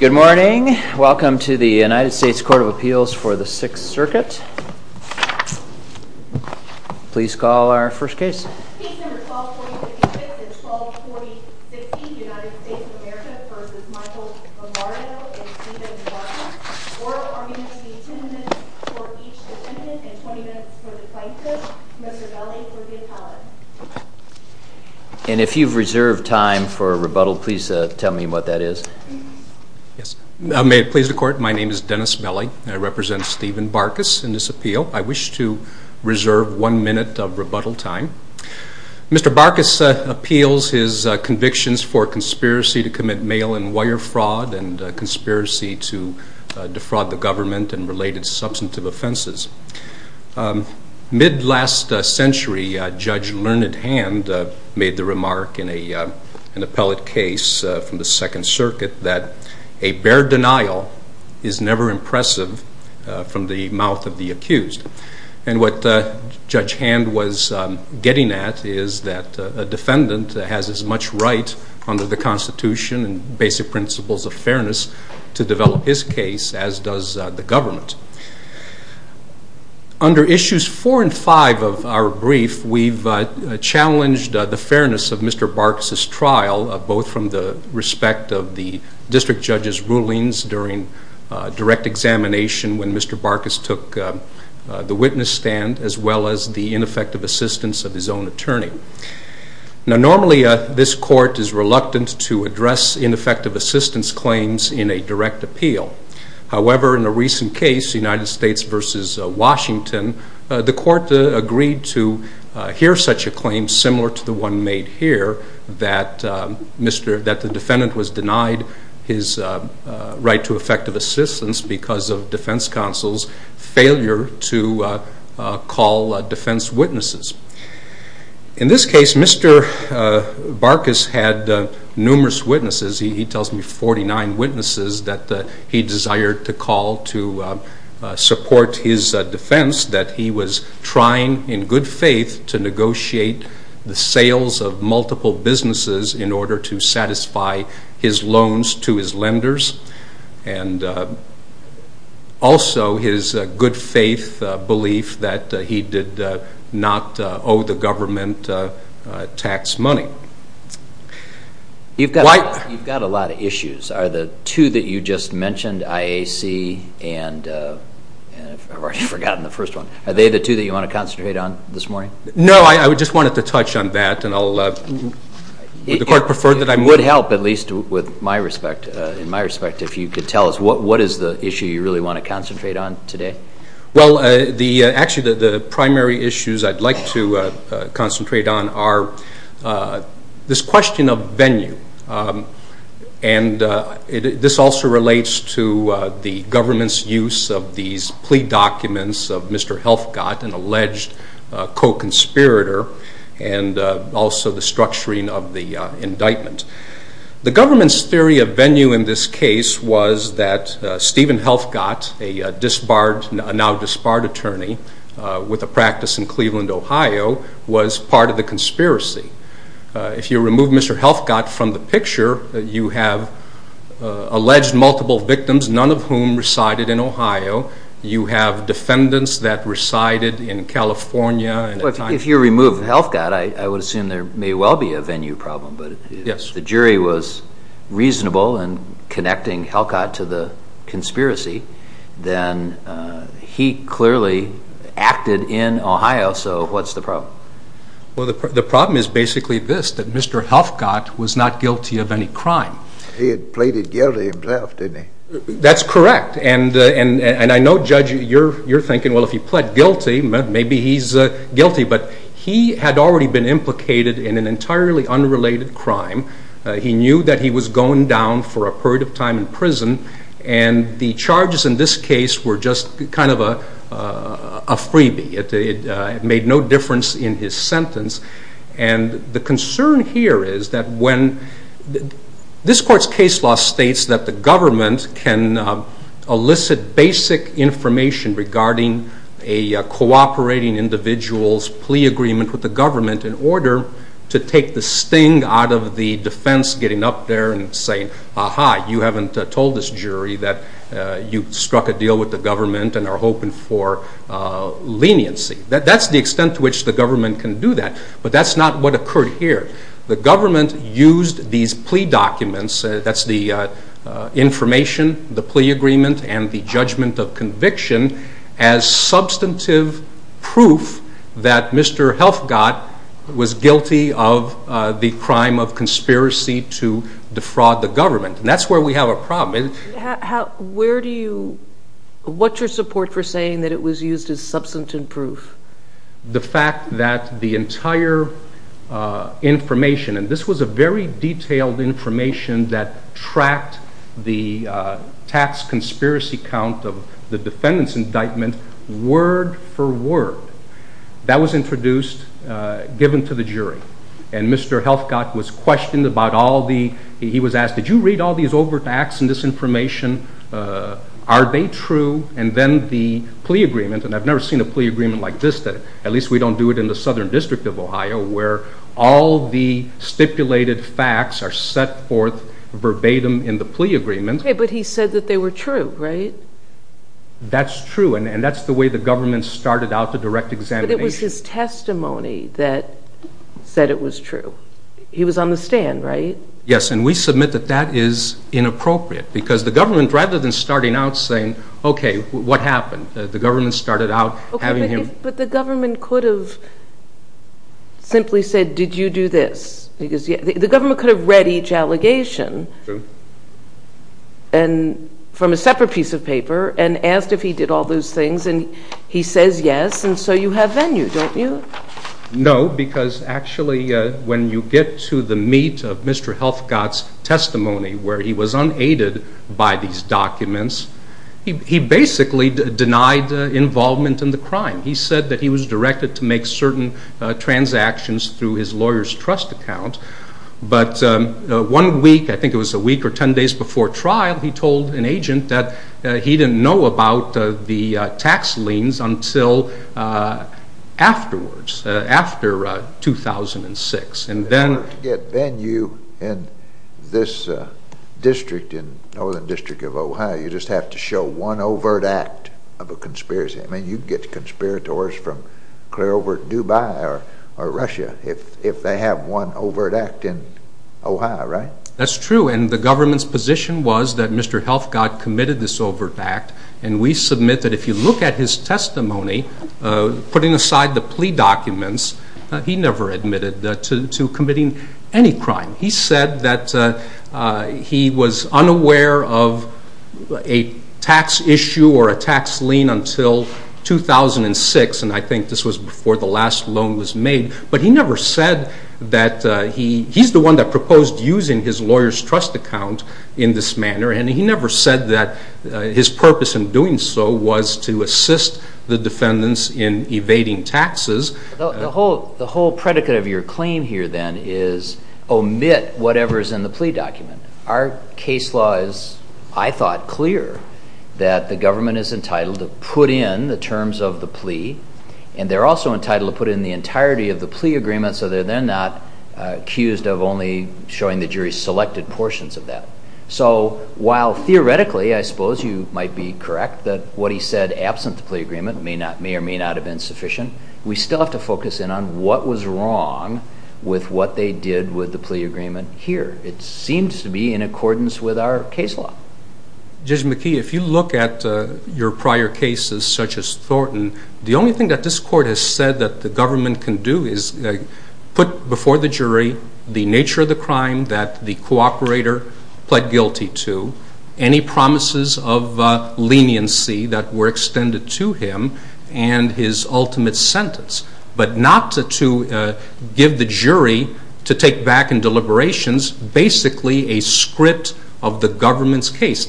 Good morning. Welcome to the United States Court of Appeals for the Sixth Circuit. Please call our first case. Case No. 12-4056 and 12-4060, United States of America v. Michael Lombardo and Steven Barkus. Oral arguments will be ten minutes for each defendant and twenty minutes for the plaintiff. Mr. Belli for the appellate. And if you've reserved time for rebuttal, please tell me what that is. May it please the Court, my name is Dennis Belli and I represent Steven Barkus in this appeal. I wish to reserve one minute of rebuttal time. Mr. Barkus appeals his convictions for conspiracy to commit mail and wire fraud and conspiracy to defraud the government and related substantive offenses. Mid last century, Judge Learned Hand made the remark in an appellate case from the Second Circuit that a bare denial is never impressive from the mouth of the accused. And what Judge Hand was getting at is that a defendant has as much right under the Constitution and basic principles of fairness to develop his case as does the government. Under issues four and five of our brief, we've challenged the fairness of Mr. Barkus' trial, both from the respect of the district judge's rulings during direct examination when Mr. Barkus took the witness stand as well as the ineffective assistance of his own attorney. Now normally this court is reluctant to address ineffective assistance claims in a direct appeal. However, in a recent case, United States v. Washington, the court agreed to hear such a claim similar to the one made here that the defendant was denied his right to effective assistance because of defense counsel's failure to call defense witnesses. In this case, Mr. Barkus had numerous witnesses. He tells me 49 witnesses that he desired to call to support his defense that he was trying in good faith to negotiate the sales of multiple businesses in order to satisfy his loans to his lenders and also his good faith belief that he did not owe the government tax money. You've got a lot of issues. Are the two that you just mentioned, IAC and I've already forgotten the first one, are they the two that you want to concentrate on this morning? No, I just wanted to touch on that. Would the court prefer that I move? It would help, at least in my respect, if you could tell us what is the issue you really want to concentrate on today? Actually, the primary issues I'd like to concentrate on are this question of venue. This also relates to the government's use of these plea documents of Mr. Helfgott, an alleged co-conspirator, and also the structuring of the indictment. The government's theory of venue in this case was that Stephen Helfgott, a now disbarred attorney with a practice in Cleveland, Ohio, was part of the conspiracy. If you remove Mr. Helfgott from the picture, you have alleged multiple victims, none of whom resided in Ohio. You have defendants that resided in California. If you remove Helfgott, I would assume there may well be a venue problem, but if the jury was reasonable in connecting Helfgott to the conspiracy, then he clearly acted in Ohio, so what's the problem? Well, the problem is basically this, that Mr. Helfgott was not guilty of any crime. He had pleaded guilty himself, didn't he? That's correct, and I know, Judge, you're thinking, well, if he pled guilty, maybe he's guilty, but he had already been implicated in an entirely unrelated crime. He knew that he was going down for a period of time in prison, and the charges in this case were just kind of a freebie. It made no difference in his sentence, and the concern here is that when this court's case law states that the government can elicit basic information regarding a cooperating individual's plea agreement with the government in order to take the sting out of the defense getting up there and saying, aha, you haven't told this jury that you struck a deal with the government and are hoping for leniency. That's the extent to which the government can do that, but that's not what occurred here. The government used these plea documents, that's the information, the plea agreement, and the judgment of conviction as substantive proof that Mr. Helfgott was guilty of the crime of conspiracy to defraud the government, and that's where we have a problem. What's your support for saying that it was used as substantive proof? The fact that the entire information, and this was a very detailed information that tracked the tax conspiracy count of the defendant's indictment word for word, that was introduced, given to the jury, and Mr. Helfgott was questioned about all the, he was asked, did you read all these overt acts and disinformation? Are they true? And then the plea agreement, and I've never seen a plea agreement like this, at least we don't do it in the Southern District of Ohio, where all the stipulated facts are set forth verbatim in the plea agreement. Okay, but he said that they were true, right? That's true, and that's the way the government started out the direct examination. But it was his testimony that said it was true. He was on the stand, right? Yes, and we submit that that is inappropriate because the government, rather than starting out saying, okay, what happened? The government started out having him. But the government could have simply said, did you do this? The government could have read each allegation from a separate piece of paper and asked if he did all those things, and he says yes, and so you have venue, don't you? No, because actually when you get to the meat of Mr. Helfgott's testimony, where he was unaided by these documents, he basically denied involvement in the crime. He said that he was directed to make certain transactions through his lawyer's trust account, but one week, I think it was a week or ten days before trial, he told an agent that he didn't know about the tax liens until afterwards, after 2006. Then you, in this district, in Northern District of Ohio, you just have to show one overt act of a conspiracy. I mean, you can get conspirators from clear over Dubai or Russia if they have one overt act in Ohio, right? That's true, and the government's position was that Mr. Helfgott committed this overt act, and we submit that if you look at his testimony, putting aside the plea documents, he never admitted to committing any crime. He said that he was unaware of a tax issue or a tax lien until 2006, and I think this was before the last loan was made, but he never said that he's the one that proposed using his lawyer's trust account in this manner, and he never said that his purpose in doing so was to assist the defendants in evading taxes. The whole predicate of your claim here, then, is omit whatever's in the plea document. Our case law is, I thought, clear that the government is entitled to put in the terms of the plea, and they're also entitled to put in the entirety of the plea agreement so that they're not accused of only showing the jury selected portions of that. So while theoretically, I suppose you might be correct, that what he said absent the plea agreement may or may not have been sufficient, we still have to focus in on what was wrong with what they did with the plea agreement here. It seems to be in accordance with our case law. Judge McKee, if you look at your prior cases such as Thornton, the only thing that this court has said that the government can do is put before the jury the nature of the crime that the cooperator pled guilty to, any promises of leniency that were extended to him, and his ultimate sentence, but not to give the jury to take back in deliberations basically a script of the government's case.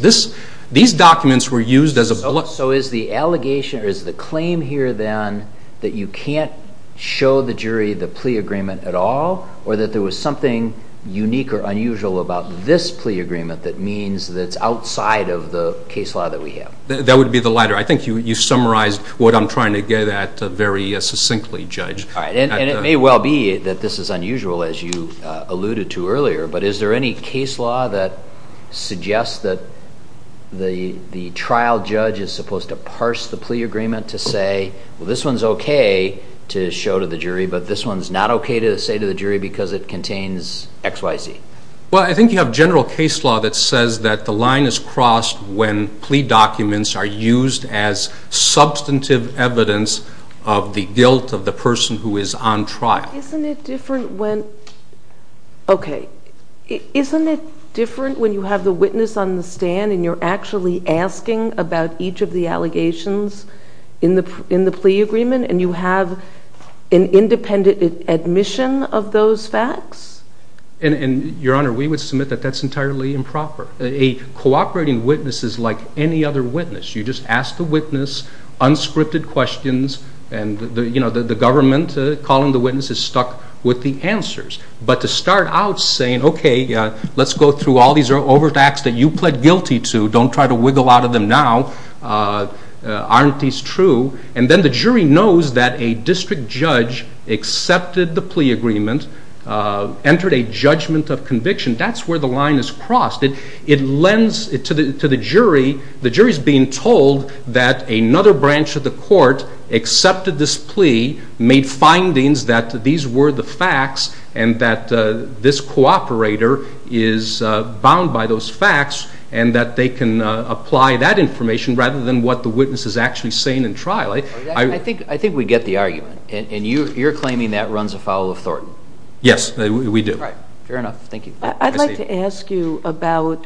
These documents were used as a... So is the allegation or is the claim here, then, that you can't show the jury the plea agreement at all, or that there was something unique or unusual about this plea agreement that means that it's outside of the case law that we have? That would be the latter. I think you summarized what I'm trying to get at very succinctly, Judge. And it may well be that this is unusual, as you alluded to earlier, but is there any case law that suggests that the trial judge is supposed to parse the plea agreement to say, well, this one's okay to show to the jury, but this one's not okay to say to the jury because it contains X, Y, Z? Well, I think you have general case law that says that the line is crossed when plea documents are used as substantive evidence of the guilt of the person who is on trial. Isn't it different when... Okay, isn't it different when you have the witness on the stand and you're actually asking about each of the allegations in the plea agreement and you have an independent admission of those facts? And, Your Honor, we would submit that that's entirely improper. A cooperating witness is like any other witness. You just ask the witness unscripted questions and the government calling the witness is stuck with the answers. But to start out saying, okay, let's go through all these overt acts that you pled guilty to. Don't try to wiggle out of them now. Aren't these true? And then the jury knows that a district judge accepted the plea agreement, entered a judgment of conviction. That's where the line is crossed. It lends to the jury. The jury is being told that another branch of the court accepted this plea, made findings that these were the facts and that this cooperator is bound by those facts and that they can apply that information rather than what the witness is actually saying in trial. I think we get the argument. And you're claiming that runs afoul of Thornton. Yes, we do. All right. Fair enough. Thank you. I'd like to ask you about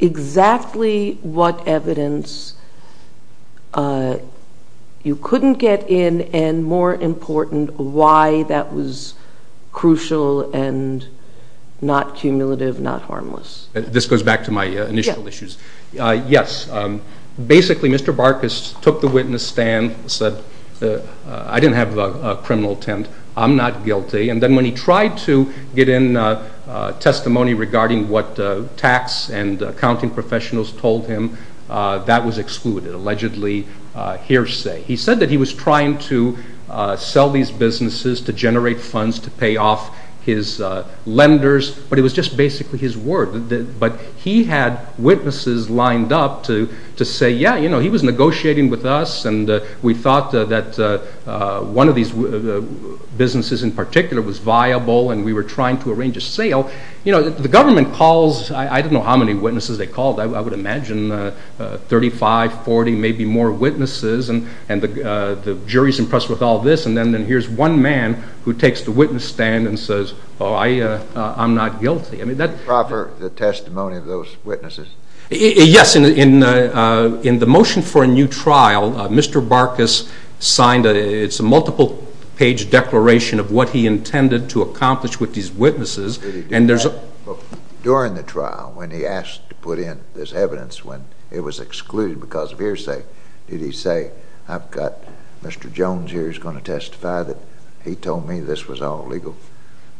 exactly what evidence you couldn't get in and, more important, why that was crucial and not cumulative, not harmless. This goes back to my initial issues. Yes. Basically, Mr. Barkas took the witness stand and said, I didn't have a criminal intent. I'm not guilty. And then when he tried to get in testimony regarding what tax and accounting professionals told him, that was excluded, allegedly hearsay. He said that he was trying to sell these businesses to generate funds to pay off his lenders, but it was just basically his word. But he had witnesses lined up to say, yeah, you know, he was negotiating with us and we thought that one of these businesses in particular was viable and we were trying to arrange a sale. You know, the government calls. I don't know how many witnesses they called. I would imagine 35, 40, maybe more witnesses. And the jury's impressed with all this. And then here's one man who takes the witness stand and says, oh, I'm not guilty. I mean, that's proper testimony of those witnesses. Yes. In the motion for a new trial, Mr. Barkas signed a multiple-page declaration of what he intended to accomplish with these witnesses. Did he do that during the trial when he asked to put in this evidence when it was excluded because of hearsay? Did he say, I've got Mr. Jones here who's going to testify that he told me this was all legal?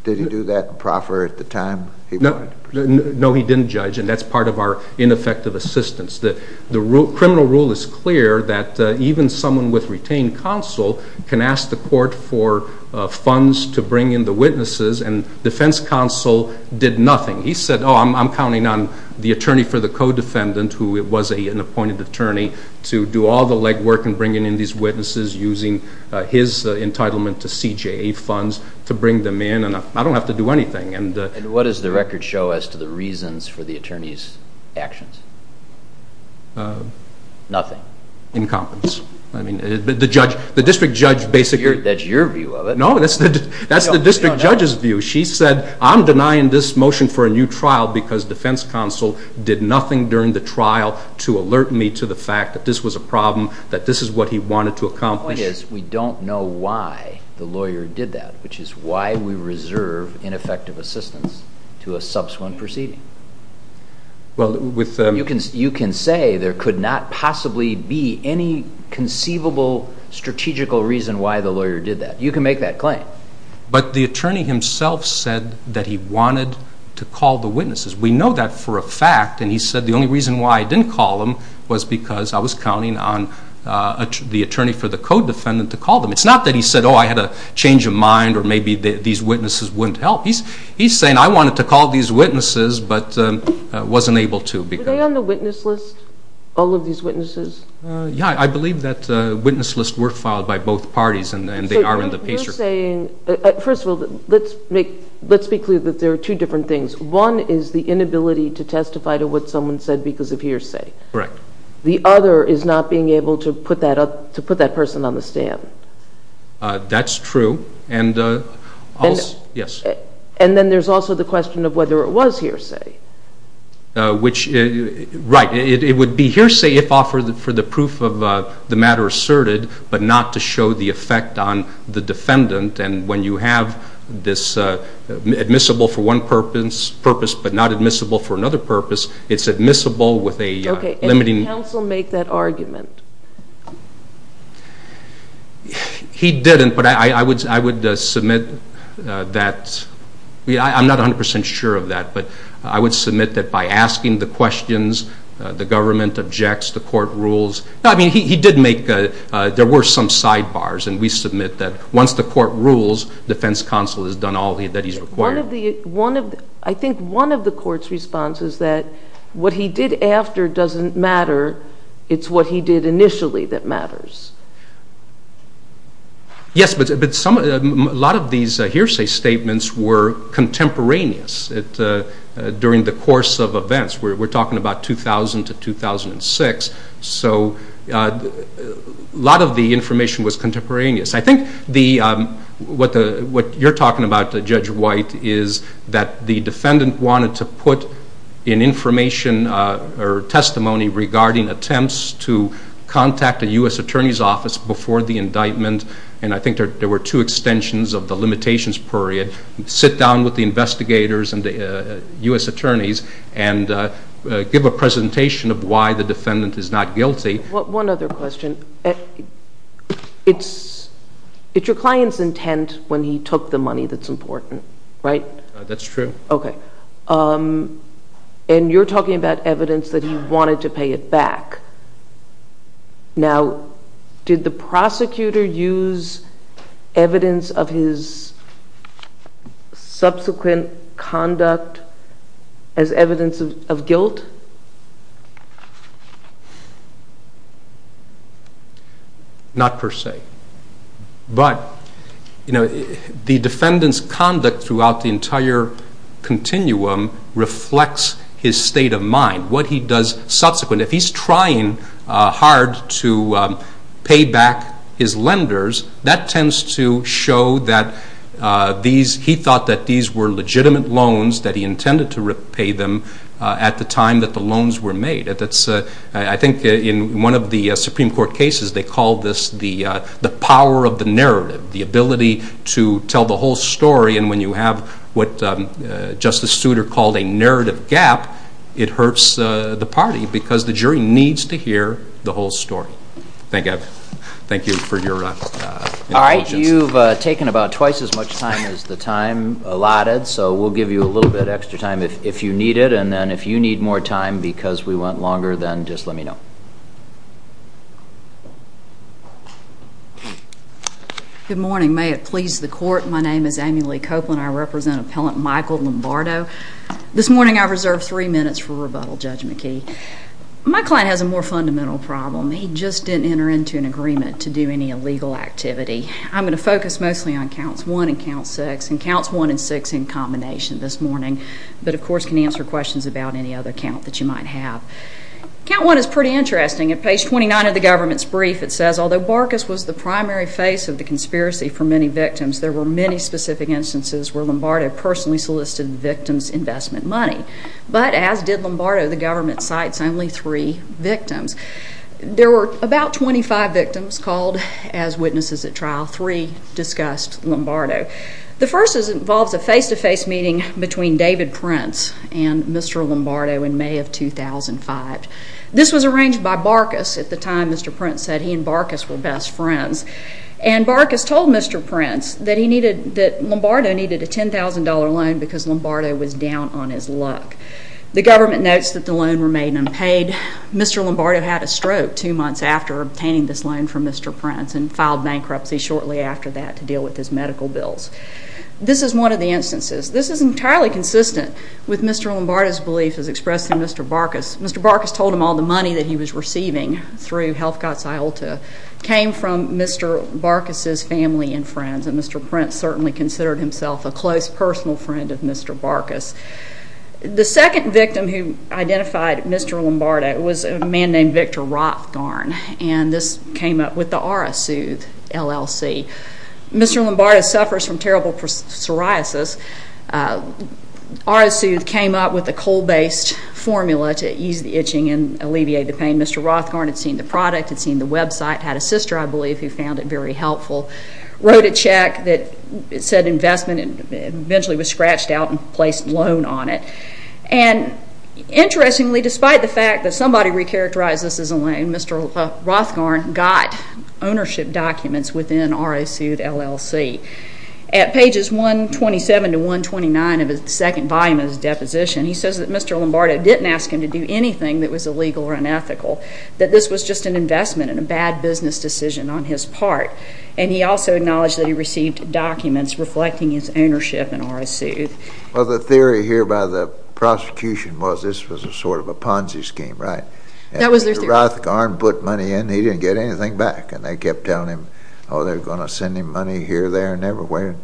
Did he do that proper at the time? No, he didn't, Judge. And that's part of our ineffective assistance. The criminal rule is clear that even someone with retained counsel can ask the court for funds to bring in the witnesses, and defense counsel did nothing. He said, oh, I'm counting on the attorney for the co-defendant, who was an appointed attorney, to do all the legwork in bringing in these witnesses using his entitlement to CJA funds to bring them in, and I don't have to do anything. And what does the record show as to the reasons for the attorney's actions? Nothing. Incompetence. The district judge basically – That's your view of it. No, that's the district judge's view. She said, I'm denying this motion for a new trial because defense counsel did nothing during the trial to alert me to the fact that this was a problem, that this is what he wanted to accomplish. The point is we don't know why the lawyer did that, which is why we reserve ineffective assistance to a subsequent proceeding. You can say there could not possibly be any conceivable, strategical reason why the lawyer did that. You can make that claim. But the attorney himself said that he wanted to call the witnesses. We know that for a fact, and he said the only reason why I didn't call him was because I was counting on the attorney for the co-defendant to call them. It's not that he said, oh, I had a change of mind or maybe these witnesses wouldn't help. He's saying I wanted to call these witnesses but wasn't able to. Were they on the witness list, all of these witnesses? Yeah, I believe that witness lists were filed by both parties, and they are in the PACER. First of all, let's be clear that there are two different things. One is the inability to testify to what someone said because of hearsay. Correct. The other is not being able to put that person on the stand. That's true. And then there's also the question of whether it was hearsay. Right. It would be hearsay if offered for the proof of the matter asserted but not to show the effect on the defendant. And when you have this admissible for one purpose but not admissible for another purpose, it's admissible with a limiting. Okay, and did counsel make that argument? He didn't, but I would submit that. I'm not 100% sure of that, but I would submit that by asking the questions, the government objects, the court rules. I mean, he did make, there were some sidebars, and we submit that once the court rules, defense counsel has done all that he's required. I think one of the court's response is that what he did after doesn't matter, it's what he did initially that matters. Yes, but a lot of these hearsay statements were contemporaneous during the course of events. We're talking about 2000 to 2006, so a lot of the information was contemporaneous. I think what you're talking about, Judge White, is that the defendant wanted to put in information or testimony regarding attempts to contact a U.S. attorney's office before the indictment, and I think there were two extensions of the limitations period, sit down with the investigators and the U.S. attorneys and give a presentation of why the defendant is not guilty. One other question. It's your client's intent when he took the money that's important, right? That's true. Okay. And you're talking about evidence that he wanted to pay it back. Now, did the prosecutor use evidence of his subsequent conduct as evidence of guilt? Not per se, but the defendant's conduct throughout the entire continuum reflects his state of mind, what he does subsequent. If he's trying hard to pay back his lenders, that tends to show that he thought that these were legitimate loans, that he intended to repay them at the time that the loans were made. I think in one of the Supreme Court cases, they called this the power of the narrative, the ability to tell the whole story, and when you have what Justice Souter called a narrative gap, it hurts the party because the jury needs to hear the whole story. Thank you for your intelligence. All right. You've taken about twice as much time as the time allotted, so we'll give you a little bit extra time if you need it, and then if you need more time because we went longer, then just let me know. Good morning. May it please the Court. My name is Amy Lee Copeland. I represent Appellant Michael Lombardo. This morning I reserved three minutes for rebuttal, Judge McKee. My client has a more fundamental problem. He just didn't enter into an agreement to do any illegal activity. I'm going to focus mostly on counts one and count six, and counts one and six in combination this morning, but, of course, can answer questions about any other count that you might have. Count one is pretty interesting. At page 29 of the government's brief, it says, Although Barkas was the primary face of the conspiracy for many victims, there were many specific instances where Lombardo personally solicited the victim's investment money. But as did Lombardo, the government cites only three victims. There were about 25 victims called as witnesses at trial. Three discussed Lombardo. The first involves a face-to-face meeting between David Prince and Mr. Lombardo in May of 2005. This was arranged by Barkas at the time. Mr. Prince said he and Barkas were best friends. And Barkas told Mr. Prince that Lombardo needed a $10,000 loan because Lombardo was down on his luck. The government notes that the loan remained unpaid. Mr. Lombardo had a stroke two months after obtaining this loan from Mr. Prince and filed bankruptcy shortly after that to deal with his medical bills. This is one of the instances. This is entirely consistent with Mr. Lombardo's belief as expressed in Mr. Barkas. Mr. Barkas told him all the money that he was receiving through Health Cots Iota came from Mr. Barkas's family and friends, and Mr. Prince certainly considered himself a close personal friend of Mr. Barkas. The second victim who identified Mr. Lombardo was a man named Victor Rothgarn, and this came up with the R.S. Soothe LLC. Mr. Lombardo suffers from terrible psoriasis. R.S. Soothe came up with a coal-based formula to ease the itching and alleviate the pain. Mr. Rothgarn had seen the product, had seen the website, had a sister, I believe, who found it very helpful, wrote a check that said investment, and eventually was scratched out and placed a loan on it. And interestingly, despite the fact that somebody recharacterized this as a loan, Mr. Rothgarn got ownership documents within R.S. Soothe LLC. At pages 127 to 129 of the second volume of his deposition, he says that Mr. Lombardo didn't ask him to do anything that was illegal or unethical, that this was just an investment and a bad business decision on his part, and he also acknowledged that he received documents reflecting his ownership in R.S. Soothe. Well, the theory here by the prosecution was this was a sort of a Ponzi scheme, right? That was their theory. After Rothgarn put money in, he didn't get anything back, and they kept telling him, oh, they're going to send him money here, there and everywhere.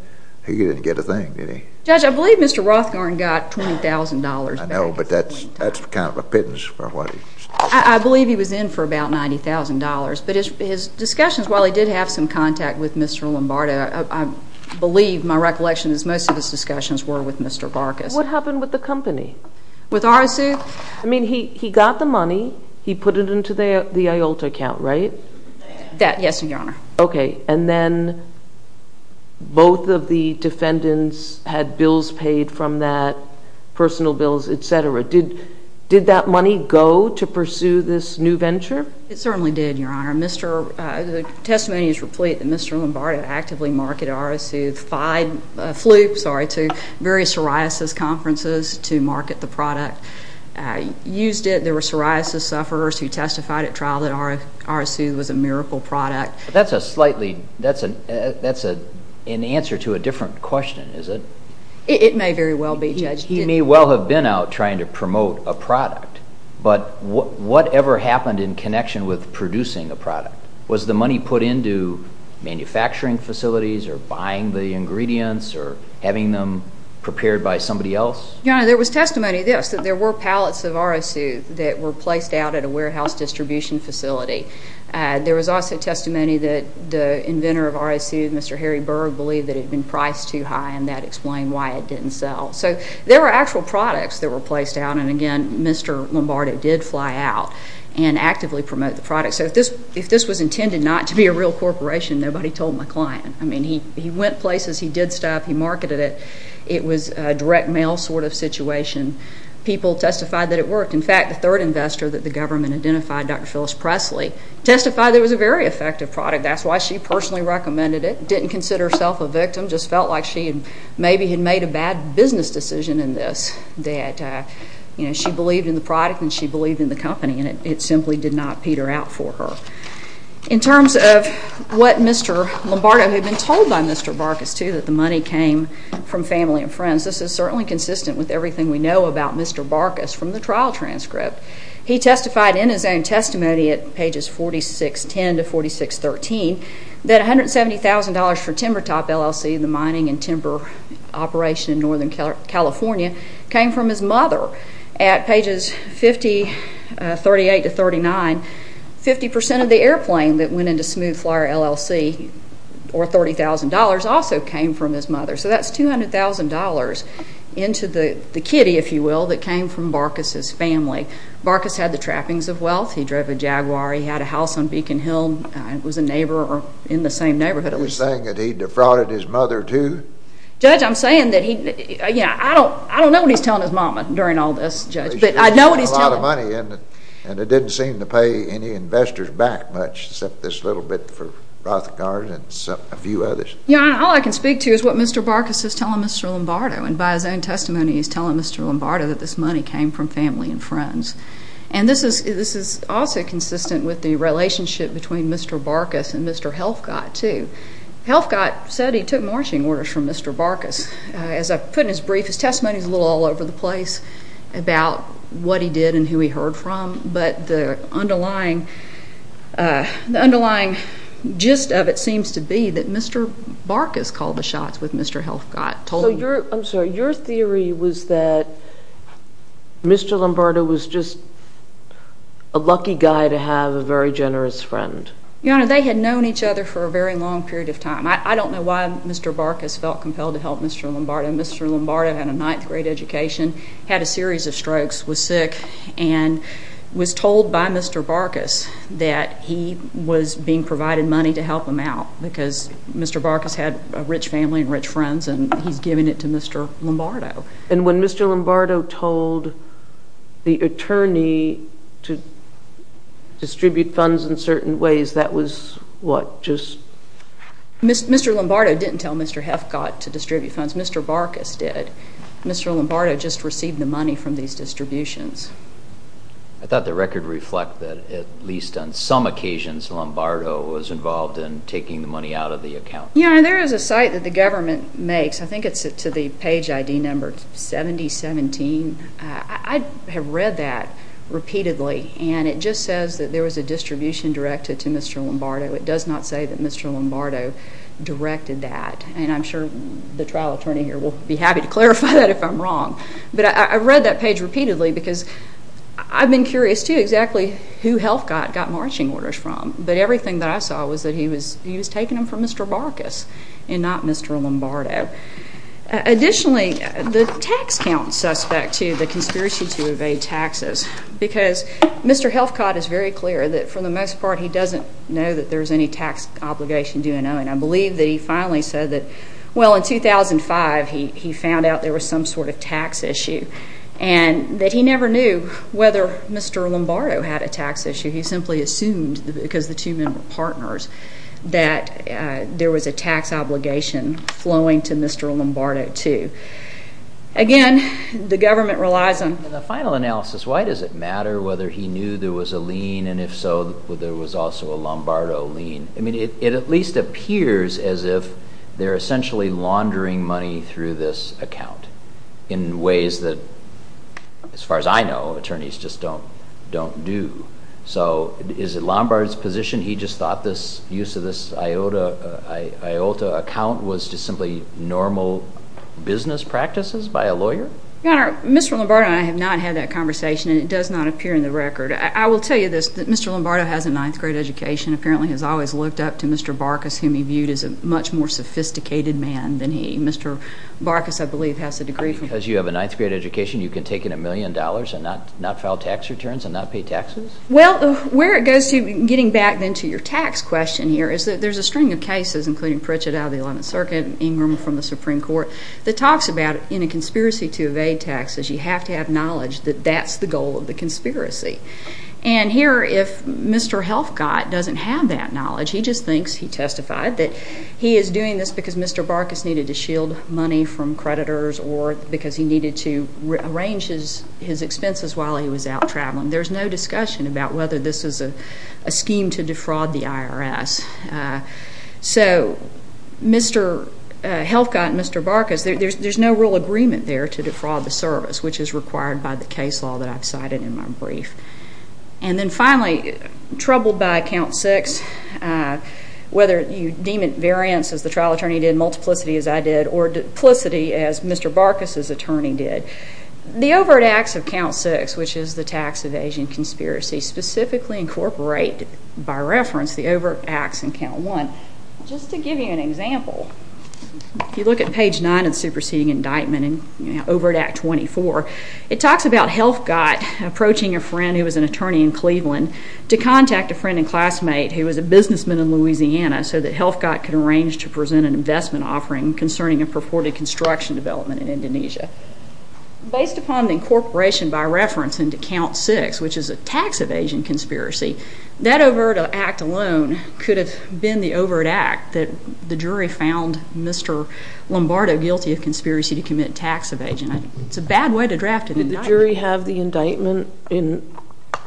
He didn't get a thing, did he? Judge, I believe Mr. Rothgarn got $20,000 back. I know, but that's kind of a pittance for what he said. I believe he was in for about $90,000. But his discussions, while he did have some contact with Mr. Lombardo, I believe my recollection is most of his discussions were with Mr. Barkas. What happened with the company? With R.S. Soothe? I mean, he got the money. He put it into the IOLTA account, right? Yes, Your Honor. Okay. And then both of the defendants had bills paid from that, personal bills, et cetera. Did that money go to pursue this new venture? It certainly did, Your Honor. The testimony is replete that Mr. Lombardo actively marketed R.S. Soothe to various psoriasis conferences to market the product. Used it. There were psoriasis sufferers who testified at trial that R.S. Soothe was a miracle product. That's an answer to a different question, is it? It may very well be, Judge. He may well have been out trying to promote a product, but whatever happened in connection with producing the product? Was the money put into manufacturing facilities or buying the ingredients or having them prepared by somebody else? Your Honor, there was testimony of this, that there were pallets of R.S. Soothe that were placed out at a warehouse distribution facility. There was also testimony that the inventor of R.S. Soothe, Mr. Harry Berg, believed that it had been priced too high, and that explained why it didn't sell. So there were actual products that were placed out, and, again, Mr. Lombardo did fly out and actively promote the product. So if this was intended not to be a real corporation, nobody told my client. I mean, he went places. He did stuff. He marketed it. It was a direct mail sort of situation. People testified that it worked. In fact, the third investor that the government identified, Dr. Phyllis Presley, testified that it was a very effective product. That's why she personally recommended it. Didn't consider herself a victim. Just felt like she maybe had made a bad business decision in this, that she believed in the product and she believed in the company, and it simply did not peter out for her. In terms of what Mr. Lombardo had been told by Mr. Barkas, too, that the money came from family and friends, this is certainly consistent with everything we know about Mr. Barkas from the trial transcript. He testified in his own testimony at pages 4610 to 4613 that $170,000 for Timber Top, LLC, the mining and timber operation in Northern California, came from his mother at pages 58 to 39. Fifty percent of the airplane that went into Smooth Flyer, LLC, or $30,000, also came from his mother. So that's $200,000 into the kitty, if you will, that came from Barkas' family. Barkas had the trappings of wealth. He drove a Jaguar. He had a house on Beacon Hill. It was a neighbor in the same neighborhood. Are you saying that he defrauded his mother, too? Judge, I'm saying that he, you know, I don't know what he's telling his mama during all this, Judge, but I know what he's telling her. A lot of money, and it didn't seem to pay any investors back much except this little bit for Rothgard and a few others. Yeah, and all I can speak to is what Mr. Barkas is telling Mr. Lombardo, and by his own testimony he's telling Mr. Lombardo that this money came from family and friends. And this is also consistent with the relationship between Mr. Barkas and Mr. Helfgott, too. Helfgott said he took marching orders from Mr. Barkas. As I put in his brief, his testimony is a little all over the place about what he did and who he heard from, but the underlying gist of it seems to be that Mr. Barkas called the shots with Mr. Helfgott. I'm sorry. Your theory was that Mr. Lombardo was just a lucky guy to have a very generous friend. Your Honor, they had known each other for a very long period of time. I don't know why Mr. Barkas felt compelled to help Mr. Lombardo. Mr. Lombardo had a ninth-grade education, had a series of strokes, was sick, and was told by Mr. Barkas that he was being provided money to help him out because Mr. Barkas had a rich family and rich friends, and he's giving it to Mr. Lombardo. And when Mr. Lombardo told the attorney to distribute funds in certain ways, that was what just... Mr. Lombardo didn't tell Mr. Helfgott to distribute funds. Mr. Barkas did. Mr. Lombardo just received the money from these distributions. I thought the record reflected that at least on some occasions Lombardo was involved in taking the money out of the account. Your Honor, there is a site that the government makes. I think it's to the page ID number 7017. I have read that repeatedly, and it just says that there was a distribution directed to Mr. Lombardo. It does not say that Mr. Lombardo directed that, and I'm sure the trial attorney here will be happy to clarify that if I'm wrong. But I read that page repeatedly because I've been curious too exactly who Helfgott got marching orders from, but everything that I saw was that he was taking them from Mr. Barkas and not Mr. Lombardo. Additionally, the tax count suspect too, the conspiracy to evade taxes, because Mr. Helfgott is very clear that for the most part he doesn't know that there's any tax obligation due in Owen. I believe that he finally said that, well, in 2005 he found out there was some sort of tax issue, and that he never knew whether Mr. Lombardo had a tax issue. He simply assumed, because the two men were partners, that there was a tax obligation flowing to Mr. Lombardo too. Again, the government relies on... In the final analysis, why does it matter whether he knew there was a lien, and if so, whether there was also a Lombardo lien? It at least appears as if they're essentially laundering money through this account in ways that, as far as I know, attorneys just don't do. So is it Lombardo's position he just thought the use of this IOTA account was just simply normal business practices by a lawyer? Your Honor, Mr. Lombardo and I have not had that conversation, and it does not appear in the record. I will tell you this, Mr. Lombardo has a ninth-grade education, apparently has always looked up to Mr. Barkas, whom he viewed as a much more sophisticated man than he... Mr. Barkas, I believe, has a degree from... Because you have a ninth-grade education, you can take in a million dollars and not file tax returns and not pay taxes? Well, where it goes to getting back then to your tax question here is that there's a string of cases, including Pritchett out of the Eleventh Circuit, Ingram from the Supreme Court, that talks about in a conspiracy to evade taxes, you have to have knowledge that that's the goal of the conspiracy. And here, if Mr. Helfgott doesn't have that knowledge, he just thinks, he testified, that he is doing this because Mr. Barkas needed to shield money from creditors or because he needed to arrange his expenses while he was out traveling. There's no discussion about whether this is a scheme to defraud the IRS. So, Mr. Helfgott and Mr. Barkas, there's no real agreement there to defraud the service, which is required by the case law that I've cited in my brief. And then finally, troubled by account six, whether you deem it variance, as the trial attorney did, or as Mr. Barkas's attorney did, the overt acts of count six, which is the tax evasion conspiracy, specifically incorporate, by reference, the overt acts in count one. Just to give you an example, if you look at page nine of the superseding indictment, overt act 24, it talks about Helfgott approaching a friend who was an attorney in Cleveland to contact a friend and classmate who was a businessman in Louisiana so that Helfgott could arrange to present an investment offering concerning a purported construction development in Indonesia. Based upon the incorporation, by reference, into count six, which is a tax evasion conspiracy, that overt act alone could have been the overt act that the jury found Mr. Lombardo guilty of conspiracy to commit tax evasion. It's a bad way to draft an indictment. Did the jury have the indictment?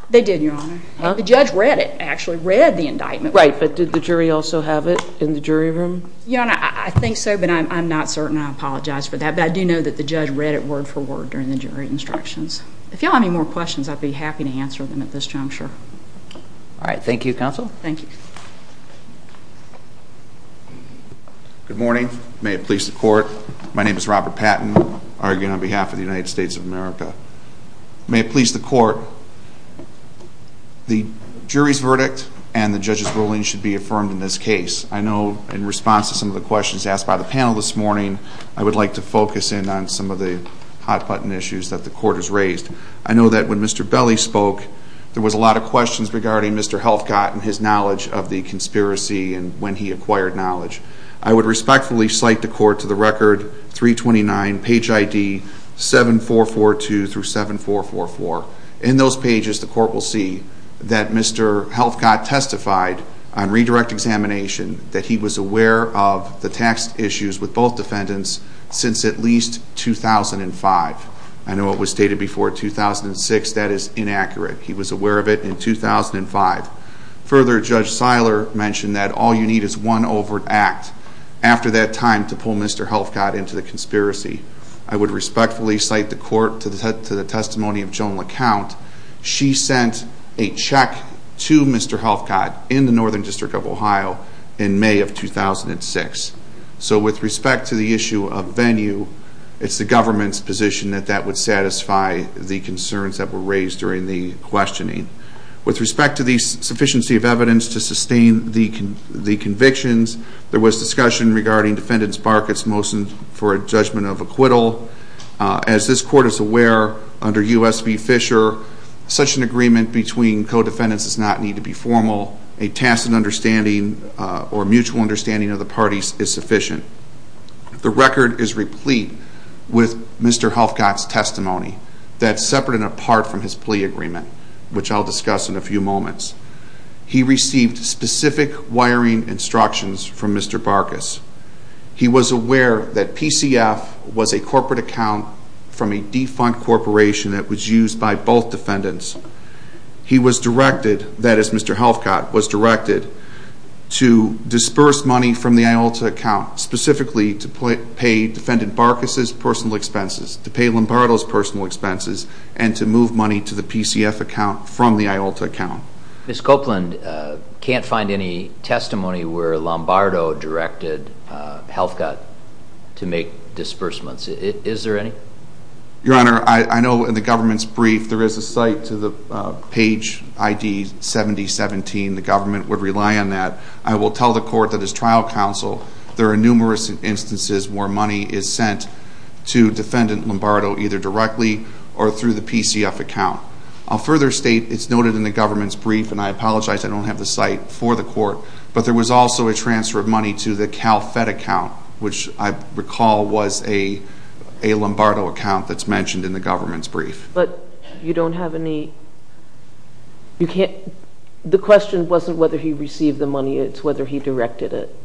They did, Your Honor. The judge read it, actually, read the indictment. Right, but did the jury also have it in the jury room? Your Honor, I think so, but I'm not certain. I apologize for that. But I do know that the judge read it word for word during the jury instructions. If you all have any more questions, I'd be happy to answer them at this time, sure. All right. Thank you, counsel. Thank you. Good morning. May it please the court. My name is Robert Patton, arguing on behalf of the United States of America. May it please the court. The jury's verdict and the judge's ruling should be affirmed in this case. I know in response to some of the questions asked by the panel this morning, I would like to focus in on some of the hot-button issues that the court has raised. I know that when Mr. Belli spoke, there was a lot of questions regarding Mr. Helfgott and his knowledge of the conspiracy and when he acquired knowledge. I would respectfully cite the court to the record 329, page ID 7442 through 7444. In those pages, the court will see that Mr. Helfgott testified on redirect examination that he was aware of the tax issues with both defendants since at least 2005. I know it was stated before 2006. That is inaccurate. He was aware of it in 2005. Further, Judge Seiler mentioned that all you need is one overt act after that time to pull Mr. Helfgott into the conspiracy. I would respectfully cite the court to the testimony of Joan LeCount. She sent a check to Mr. Helfgott in the Northern District of Ohio in May of 2006. So with respect to the issue of venue, it's the government's position that that would satisfy the concerns that were raised during the questioning. With respect to the sufficiency of evidence to sustain the convictions, there was discussion regarding Defendant Sparkett's motion for a judgment of acquittal. As this court is aware, under U.S. v. Fisher, such an agreement between co-defendants does not need to be formal. A tacit understanding or mutual understanding of the parties is sufficient. The record is replete with Mr. Helfgott's testimony. That's separate and apart from his plea agreement, which I'll discuss in a few moments. He received specific wiring instructions from Mr. Barkas. He was aware that PCF was a corporate account from a defunct corporation that was used by both defendants. He was directed, that is Mr. Helfgott, was directed to disperse money from the IOLTA account specifically to pay Defendant Barkas's personal expenses, to pay Lombardo's personal expenses, and to move money to the PCF account from the IOLTA account. Ms. Copeland can't find any testimony where Lombardo directed Helfgott to make disbursements. Is there any? Your Honor, I know in the government's brief there is a cite to the page ID 7017. The government would rely on that. I will tell the court that as trial counsel there are numerous instances where money is sent to Defendant Lombardo either directly or through the PCF account. I'll further state it's noted in the government's brief, and I apologize I don't have the cite for the court, but there was also a transfer of money to the CalFed account, which I recall was a Lombardo account that's mentioned in the government's brief. But you don't have any? The question wasn't whether he received the money, it's whether he directed it.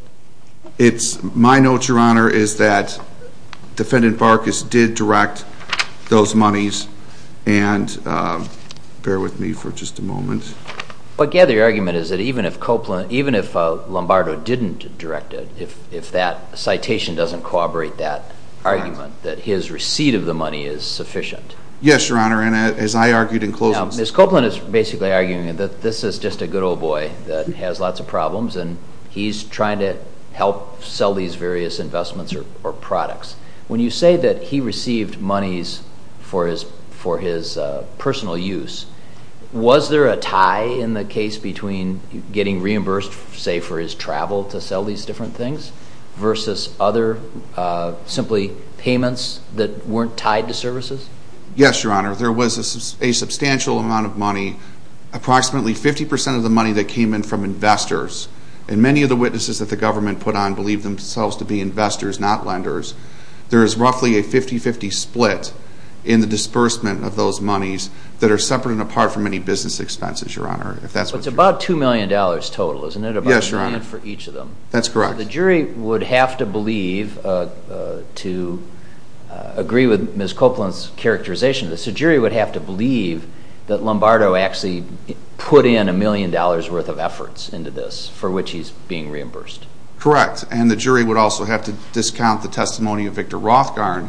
My note, Your Honor, is that Defendant Barkas did direct those monies, and bear with me for just a moment. What I gather your argument is that even if Lombardo didn't direct it, if that citation doesn't corroborate that argument, that his receipt of the money is sufficient. Yes, Your Honor, and as I argued in closing. Now, Ms. Copeland is basically arguing that this is just a good old boy that has lots of problems, and he's trying to help sell these various investments or products. When you say that he received monies for his personal use, was there a tie in the case between getting reimbursed, say, for his travel to sell these different things, versus other simply payments that weren't tied to services? Yes, Your Honor, there was a substantial amount of money, approximately 50% of the money that came in from investors, and many of the witnesses that the government put on believed themselves to be investors, not lenders. There is roughly a 50-50 split in the disbursement of those monies that are separate and apart from any business expenses, Your Honor. It's about $2 million total, isn't it? Yes, Your Honor. About a million for each of them. That's correct. The jury would have to believe, to agree with Ms. Copeland's characterization of this, the jury would have to believe that Lombardo actually put in a million dollars worth of efforts into this for which he's being reimbursed. Correct, and the jury would also have to discount the testimony of Victor Rothgarn,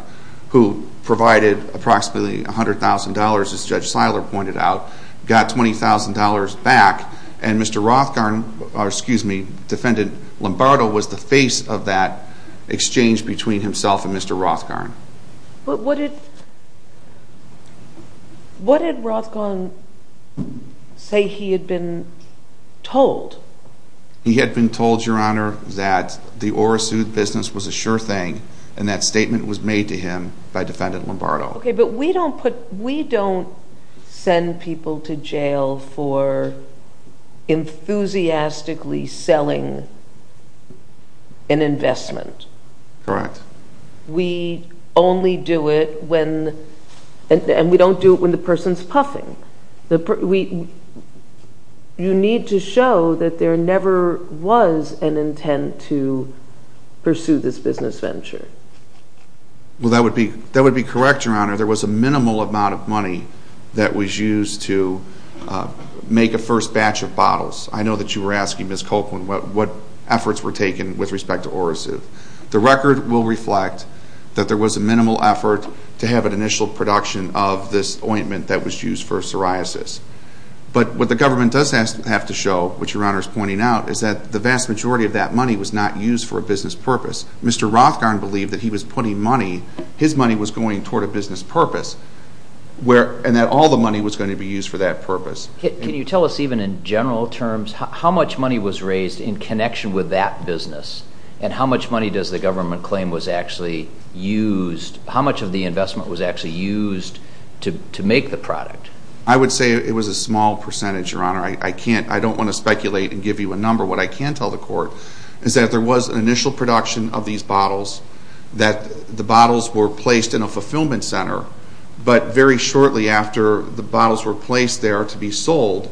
who provided approximately $100,000, as Judge Seiler pointed out, got $20,000 back, and Mr. Rothgarn, or excuse me, defendant Lombardo was the face of that exchange between himself and Mr. Rothgarn. But what did Rothgarn say he had been told? He had been told, Your Honor, that the Orasooth business was a sure thing and that statement was made to him by defendant Lombardo. Okay, but we don't send people to jail for enthusiastically selling an investment. Correct. We only do it when, and we don't do it when the person's puffing. You need to show that there never was an intent to pursue this business venture. Well, that would be correct, Your Honor. There was a minimal amount of money that was used to make a first batch of bottles. I know that you were asking Ms. Copeland what efforts were taken with respect to Orasooth. The record will reflect that there was a minimal effort to have an initial production of this ointment that was used for psoriasis. But what the government does have to show, which Your Honor is pointing out, is that the vast majority of that money was not used for a business purpose. Mr. Rothgarn believed that he was putting money, his money was going toward a business purpose, and that all the money was going to be used for that purpose. Can you tell us even in general terms how much money was raised in connection with that business and how much money does the government claim was actually used, how much of the investment was actually used to make the product? I would say it was a small percentage, Your Honor. I don't want to speculate and give you a number. What I can tell the court is that there was an initial production of these bottles, that the bottles were placed in a fulfillment center, but very shortly after the bottles were placed there to be sold,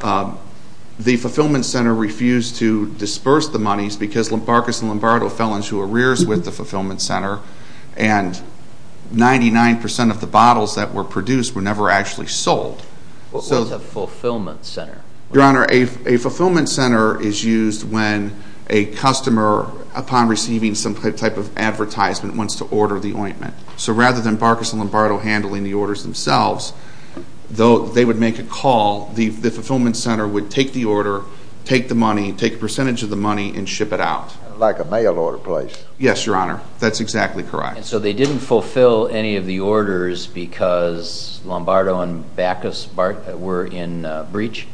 the fulfillment center refused to disperse the monies because Barcus and Lombardo fell into arrears with the fulfillment center and 99% of the bottles that were produced were never actually sold. What was a fulfillment center? Your Honor, a fulfillment center is used when a customer, upon receiving some type of advertisement, wants to order the ointment. So rather than Barcus and Lombardo handling the orders themselves, though they would make a call, the fulfillment center would take the order, take the money, take a percentage of the money, and ship it out. Like a mail order place. Yes, Your Honor. That's exactly correct. So they didn't fulfill any of the orders because Lombardo and Barcus were in breach?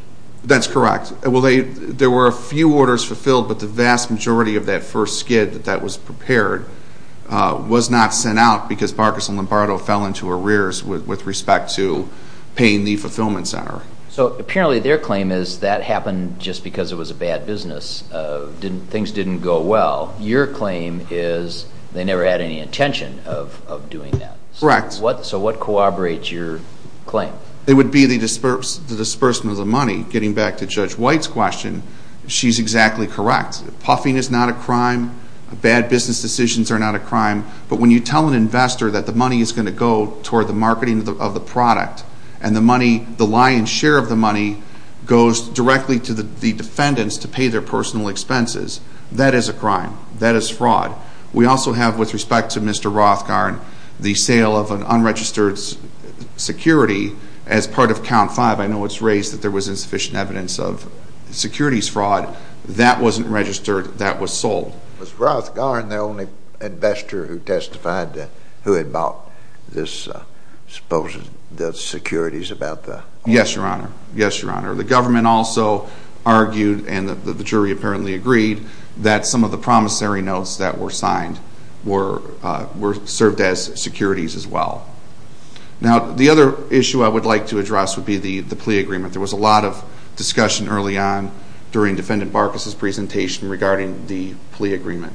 That's correct. There were a few orders fulfilled, but the vast majority of that first skid that was prepared was not sent out because Barcus and Lombardo fell into arrears with respect to paying the fulfillment center. So apparently their claim is that happened just because it was a bad business. Things didn't go well. Your claim is they never had any intention of doing that. Correct. So what corroborates your claim? It would be the disbursement of the money. Getting back to Judge White's question, she's exactly correct. Puffing is not a crime. Bad business decisions are not a crime. But when you tell an investor that the money is going to go toward the marketing of the product and the lion's share of the money goes directly to the defendants to pay their personal expenses, that is a crime. That is fraud. We also have, with respect to Mr. Rothgaard, the sale of an unregistered security as part of Count 5. I know it's raised that there was insufficient evidence of securities fraud. That wasn't registered. That was sold. Was Rothgaard the only investor who testified who had bought the securities about the... Yes, Your Honor. Yes, Your Honor. The government also argued, and the jury apparently agreed, that some of the promissory notes that were signed served as securities as well. Now the other issue I would like to address would be the plea agreement. There was a lot of discussion early on during Defendant Barkas' presentation regarding the plea agreement.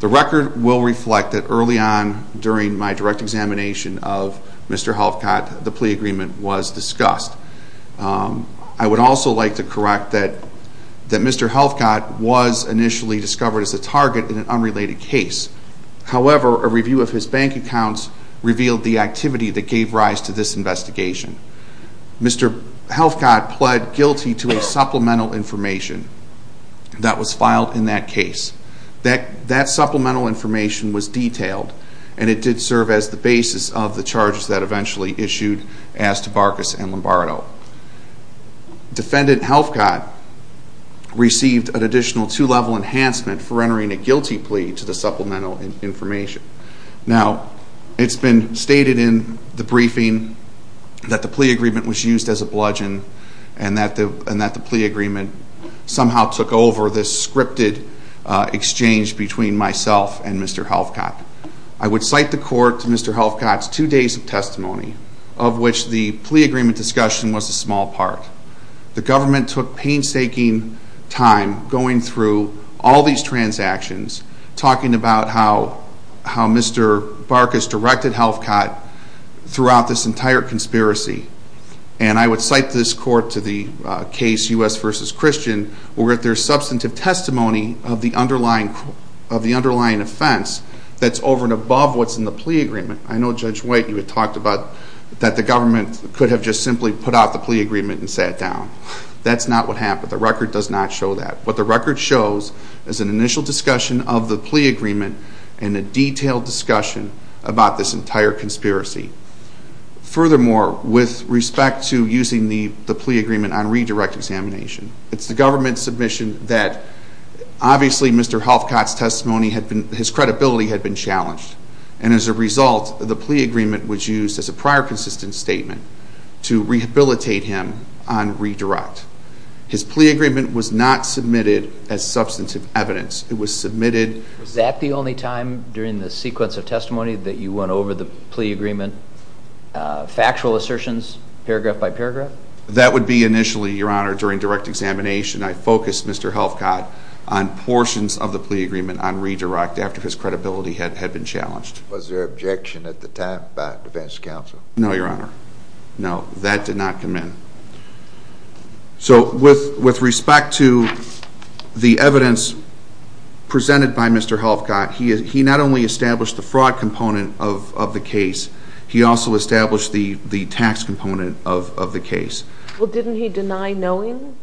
The record will reflect that early on during my direct examination of Mr. Helfcott, the plea agreement was discussed. I would also like to correct that Mr. Helfcott was initially discovered as a target in an unrelated case. However, a review of his bank accounts revealed the activity that gave rise to this investigation. Mr. Helfcott pled guilty to a supplemental information that was filed in that case. That supplemental information was detailed, and it did serve as the basis of the charges that eventually issued as to Barkas and Lombardo. Defendant Helfcott received an additional two-level enhancement for entering a guilty plea to the supplemental information. Now, it's been stated in the briefing that the plea agreement was used as a bludgeon and that the plea agreement somehow took over this scripted exchange between myself and Mr. Helfcott. I would cite the court to Mr. Helfcott's two days of testimony, of which the plea agreement discussion was a small part. The government took painstaking time going through all these transactions, talking about how Mr. Barkas directed Helfcott throughout this entire conspiracy. And I would cite this court to the case U.S. v. Christian, where there's substantive testimony of the underlying offense that's over and above what's in the plea agreement. I know, Judge White, you had talked about that the government could have just simply put out the plea agreement and sat down. That's not what happened. The record does not show that. What the record shows is an initial discussion of the plea agreement and a detailed discussion about this entire conspiracy. Furthermore, with respect to using the plea agreement on redirect examination, it's the government's submission that, obviously, Mr. Helfcott's testimony, his credibility had been challenged. And as a result, the plea agreement was used as a prior consistent statement to rehabilitate him on redirect. His plea agreement was not submitted as substantive evidence. It was submitted- Was that the only time during the sequence of testimony that you went over the plea agreement? Factual assertions, paragraph by paragraph? That would be initially, Your Honor, during direct examination. I focused Mr. Helfcott on portions of the plea agreement on redirect after his credibility had been challenged. Was there objection at the time by defense counsel? No, Your Honor. No, that did not come in. So with respect to the evidence presented by Mr. Helfcott, he not only established the fraud component of the case, he also established the tax component of the case. Well, didn't he deny knowing?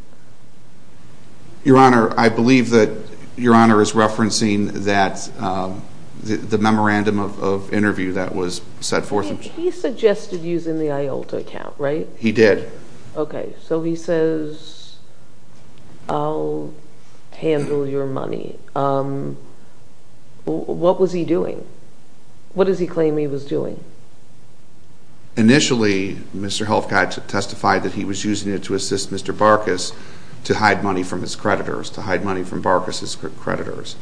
Your Honor, I believe that Your Honor is referencing the memorandum of interview that was set forth. He suggested using the IOLTA account, right? He did. Okay, so he says, I'll handle your money. What was he doing? What does he claim he was doing? Initially, Mr. Helfcott testified that he was using it to assist Mr. Barkas to hide money from his creditors, to hide money from Barkas' creditors.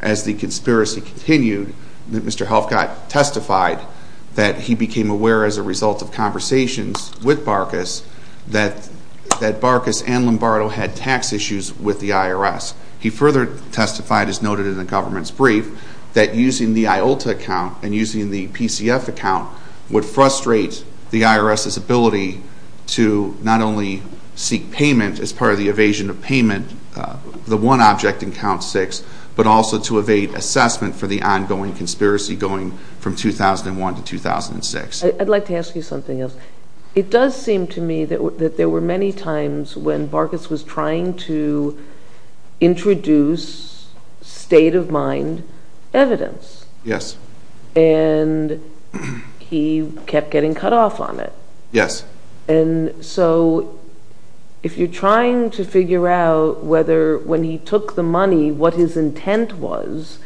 As the conspiracy continued, Mr. Helfcott testified that he became aware as a result of conversations with Barkas that Barkas and Lombardo had tax issues with the IRS. He further testified, as noted in the government's brief, that using the IOLTA account and using the PCF account would frustrate the IRS's ability to not only seek payment as part of the evasion of payment, the one object in count six, but also to evade assessment for the ongoing conspiracy going from 2001 to 2006. I'd like to ask you something else. It does seem to me that there were many times when Barkas was trying to introduce state-of-mind evidence. Yes. And he kept getting cut off on it. Yes. And so if you're trying to figure out whether when he took the money what his intent was,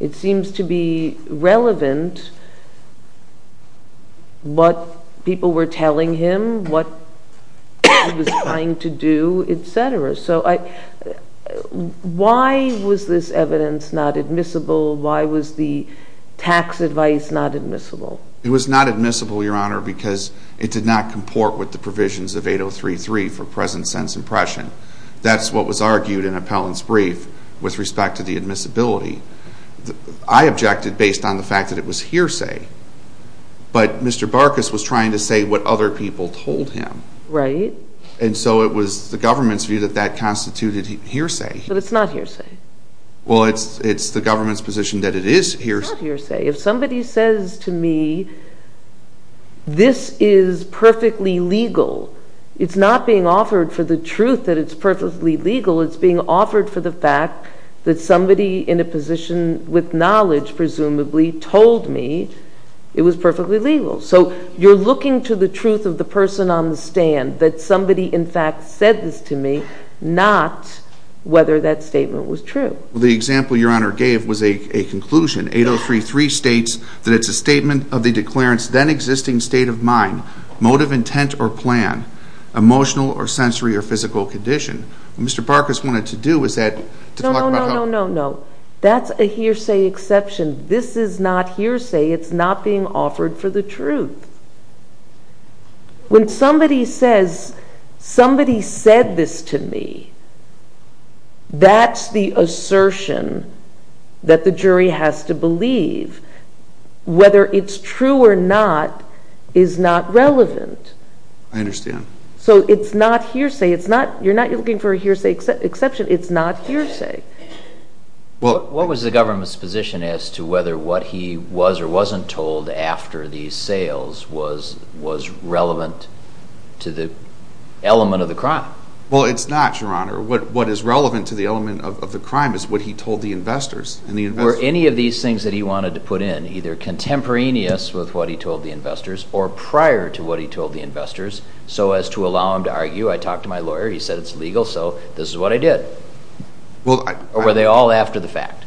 it seems to be relevant what people were telling him, what he was trying to do, etc. So why was this evidence not admissible? Why was the tax advice not admissible? It was not admissible, Your Honor, because it did not comport with the provisions of 8033 for present sense impression. That's what was argued in Appellant's brief with respect to the admissibility. I objected based on the fact that it was hearsay. But Mr. Barkas was trying to say what other people told him. Right. And so it was the government's view that that constituted hearsay. But it's not hearsay. Well, it's the government's position that it is hearsay. It's not hearsay. If somebody says to me, this is perfectly legal, it's not being offered for the truth that it's perfectly legal. It's being offered for the fact that somebody in a position with knowledge, presumably, told me it was perfectly legal. So you're looking to the truth of the person on the stand, that somebody, in fact, said this to me, not whether that statement was true. Well, the example Your Honor gave was a conclusion. 8033 states that it's a statement of the declarant's then-existing state of mind, mode of intent or plan, emotional or sensory or physical condition. What Mr. Barkas wanted to do was that to talk about... No, no, no, no, no. That's a hearsay exception. This is not hearsay. It's not being offered for the truth. When somebody says, somebody said this to me, that's the assertion that the jury has to believe. Whether it's true or not is not relevant. I understand. So it's not hearsay. You're not looking for a hearsay exception. It's not hearsay. What was the government's position as to whether what he was or wasn't told after these sales was relevant to the element of the crime? Well, it's not, Your Honor. What is relevant to the element of the crime is what he told the investors. Were any of these things that he wanted to put in either contemporaneous with what he told the investors or prior to what he told the investors so as to allow him to argue, I talked to my lawyer, he said it's legal, so this is what I did? Or were they all after the fact?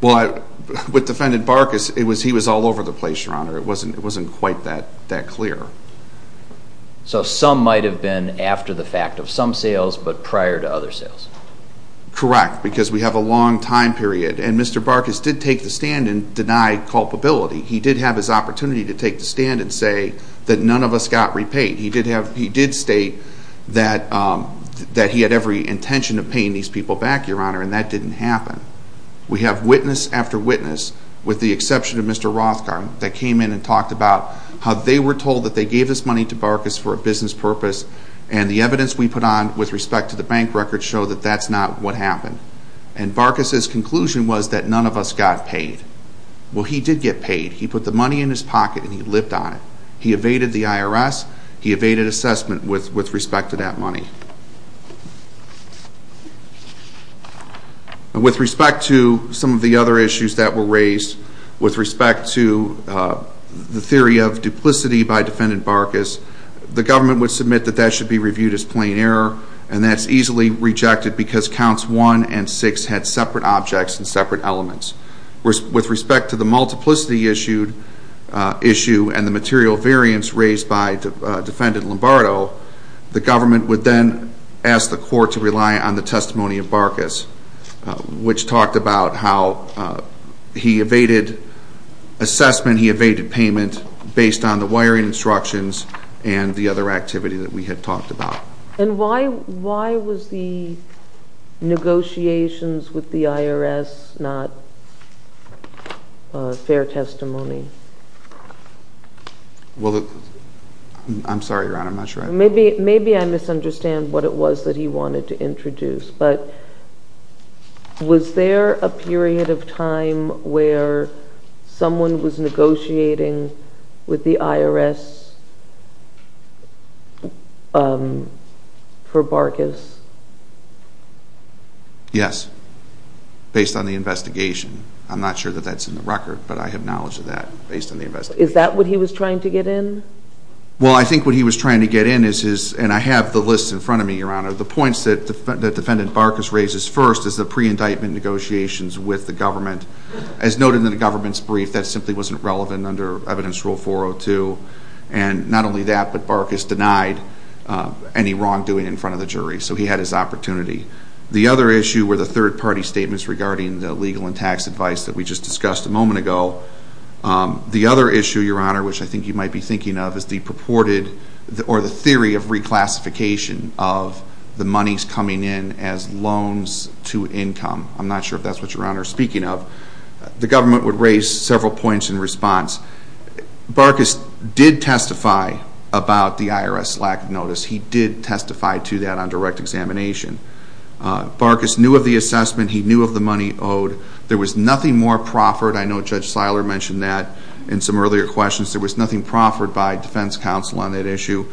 Well, with Defendant Barkas, he was all over the place, Your Honor. It wasn't quite that clear. So some might have been after the fact of some sales but prior to other sales. Correct, because we have a long time period. And Mr. Barkas did take the stand and deny culpability. He did have his opportunity to take the stand and say that none of us got repaid. He did state that he had every intention of paying these people back, Your Honor, and that didn't happen. We have witness after witness, with the exception of Mr. Rothgard, that came in and talked about how they were told that they gave this money to Barkas for a business purpose and the evidence we put on with respect to the bank records show that that's not what happened. And Barkas's conclusion was that none of us got paid. Well, he did get paid. He put the money in his pocket and he lived on it. He evaded the IRS. He evaded assessment with respect to that money. With respect to some of the other issues that were raised, with respect to the theory of duplicity by Defendant Barkas, the government would submit that that should be reviewed as plain error and that's easily rejected because Counts 1 and 6 had separate objects and separate elements. With respect to the multiplicity issue and the material variance raised by Defendant Lombardo, the government would then ask the court to rely on the testimony of Barkas, which talked about how he evaded assessment, he evaded payment, based on the wiring instructions and the other activity that we had talked about. And why was the negotiations with the IRS not fair testimony? Well, I'm sorry, Your Honor, I'm not sure. Maybe I misunderstand what it was that he wanted to introduce, but was there a period of time where someone was negotiating with the IRS for Barkas? Yes, based on the investigation. I'm not sure that that's in the record, but I have knowledge of that based on the investigation. Is that what he was trying to get in? Well, I think what he was trying to get in is his, and I have the list in front of me, Your Honor, the points that Defendant Barkas raises first is the pre-indictment negotiations with the government. As noted in the government's brief, that simply wasn't relevant under Evidence Rule 402. And not only that, but Barkas denied any wrongdoing in front of the jury, so he had his opportunity. The other issue were the third-party statements regarding the legal and tax advice that we just discussed a moment ago. The other issue, Your Honor, which I think you might be thinking of, is the purported or the theory of reclassification of the monies coming in as loans to income. I'm not sure if that's what you're, Your Honor, speaking of. The government would raise several points in response. Barkas did testify about the IRS lack of notice. He did testify to that on direct examination. Barkas knew of the assessment. He knew of the money owed. There was nothing more proffered. I know Judge Seiler mentioned that in some earlier questions. There was nothing proffered by defense counsel on that issue.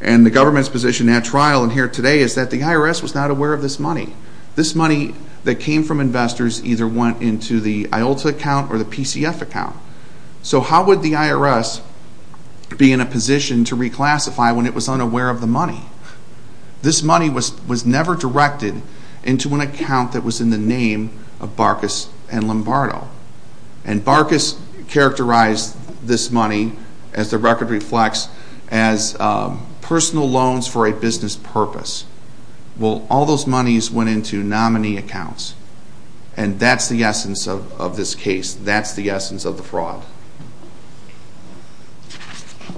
And the government's position at trial and here today is that the IRS was not aware of this money. This money that came from investors either went into the IOLTA account or the PCF account. So how would the IRS be in a position to reclassify when it was unaware of the money? This money was never directed into an account that was in the name of Barkas and Lombardo. And Barkas characterized this money, as the record reflects, as personal loans for a business purpose. Well, all those monies went into nominee accounts. And that's the essence of this case. That's the essence of the fraud.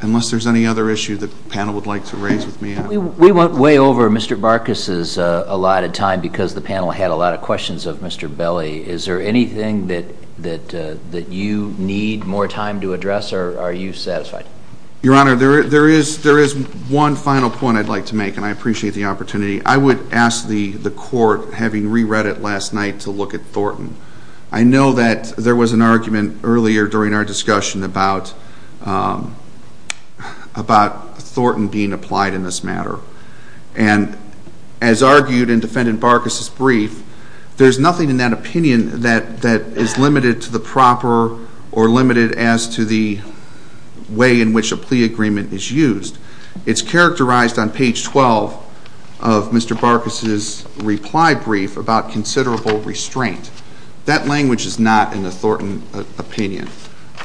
Unless there's any other issue the panel would like to raise with me. We went way over Mr. Barkas's allotted time because the panel had a lot of questions of Mr. Belli. Is there anything that you need more time to address or are you satisfied? Your Honor, there is one final point I'd like to make, and I appreciate the opportunity. I would ask the court, having re-read it last night, to look at Thornton. I know that there was an argument earlier during our discussion about Thornton being applied in this matter. And as argued in Defendant Barkas's brief, there's nothing in that opinion that is limited to the proper or limited as to the way in which a plea agreement is used. It's characterized on page 12 of Mr. Barkas's reply brief about considerable restraint. That language is not in the Thornton opinion.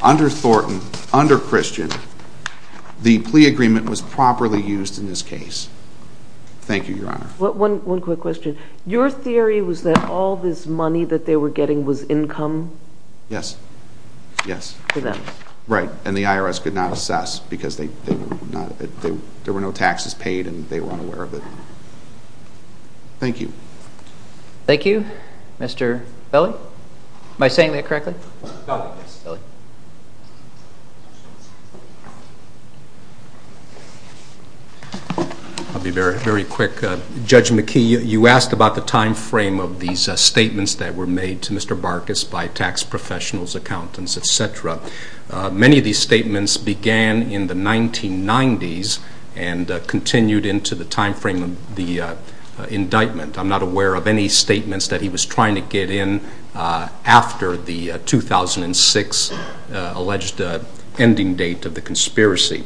Under Thornton, under Christian, the plea agreement was properly used in this case. Thank you, Your Honor. One quick question. Your theory was that all this money that they were getting was income? Yes. Yes. For them. Right. And the IRS could not assess because there were no taxes paid and they were unaware of it. Thank you. Thank you. Mr. Belli? Am I saying that correctly? Yes. I'll be very quick. Judge McKee, you asked about the time frame of these statements that were made to Mr. Barkas by tax professionals, accountants, et cetera. Many of these statements began in the 1990s and continued into the time frame of the indictment. I'm not aware of any statements that he was trying to get in after the 2006 alleged ending date of the conspiracy.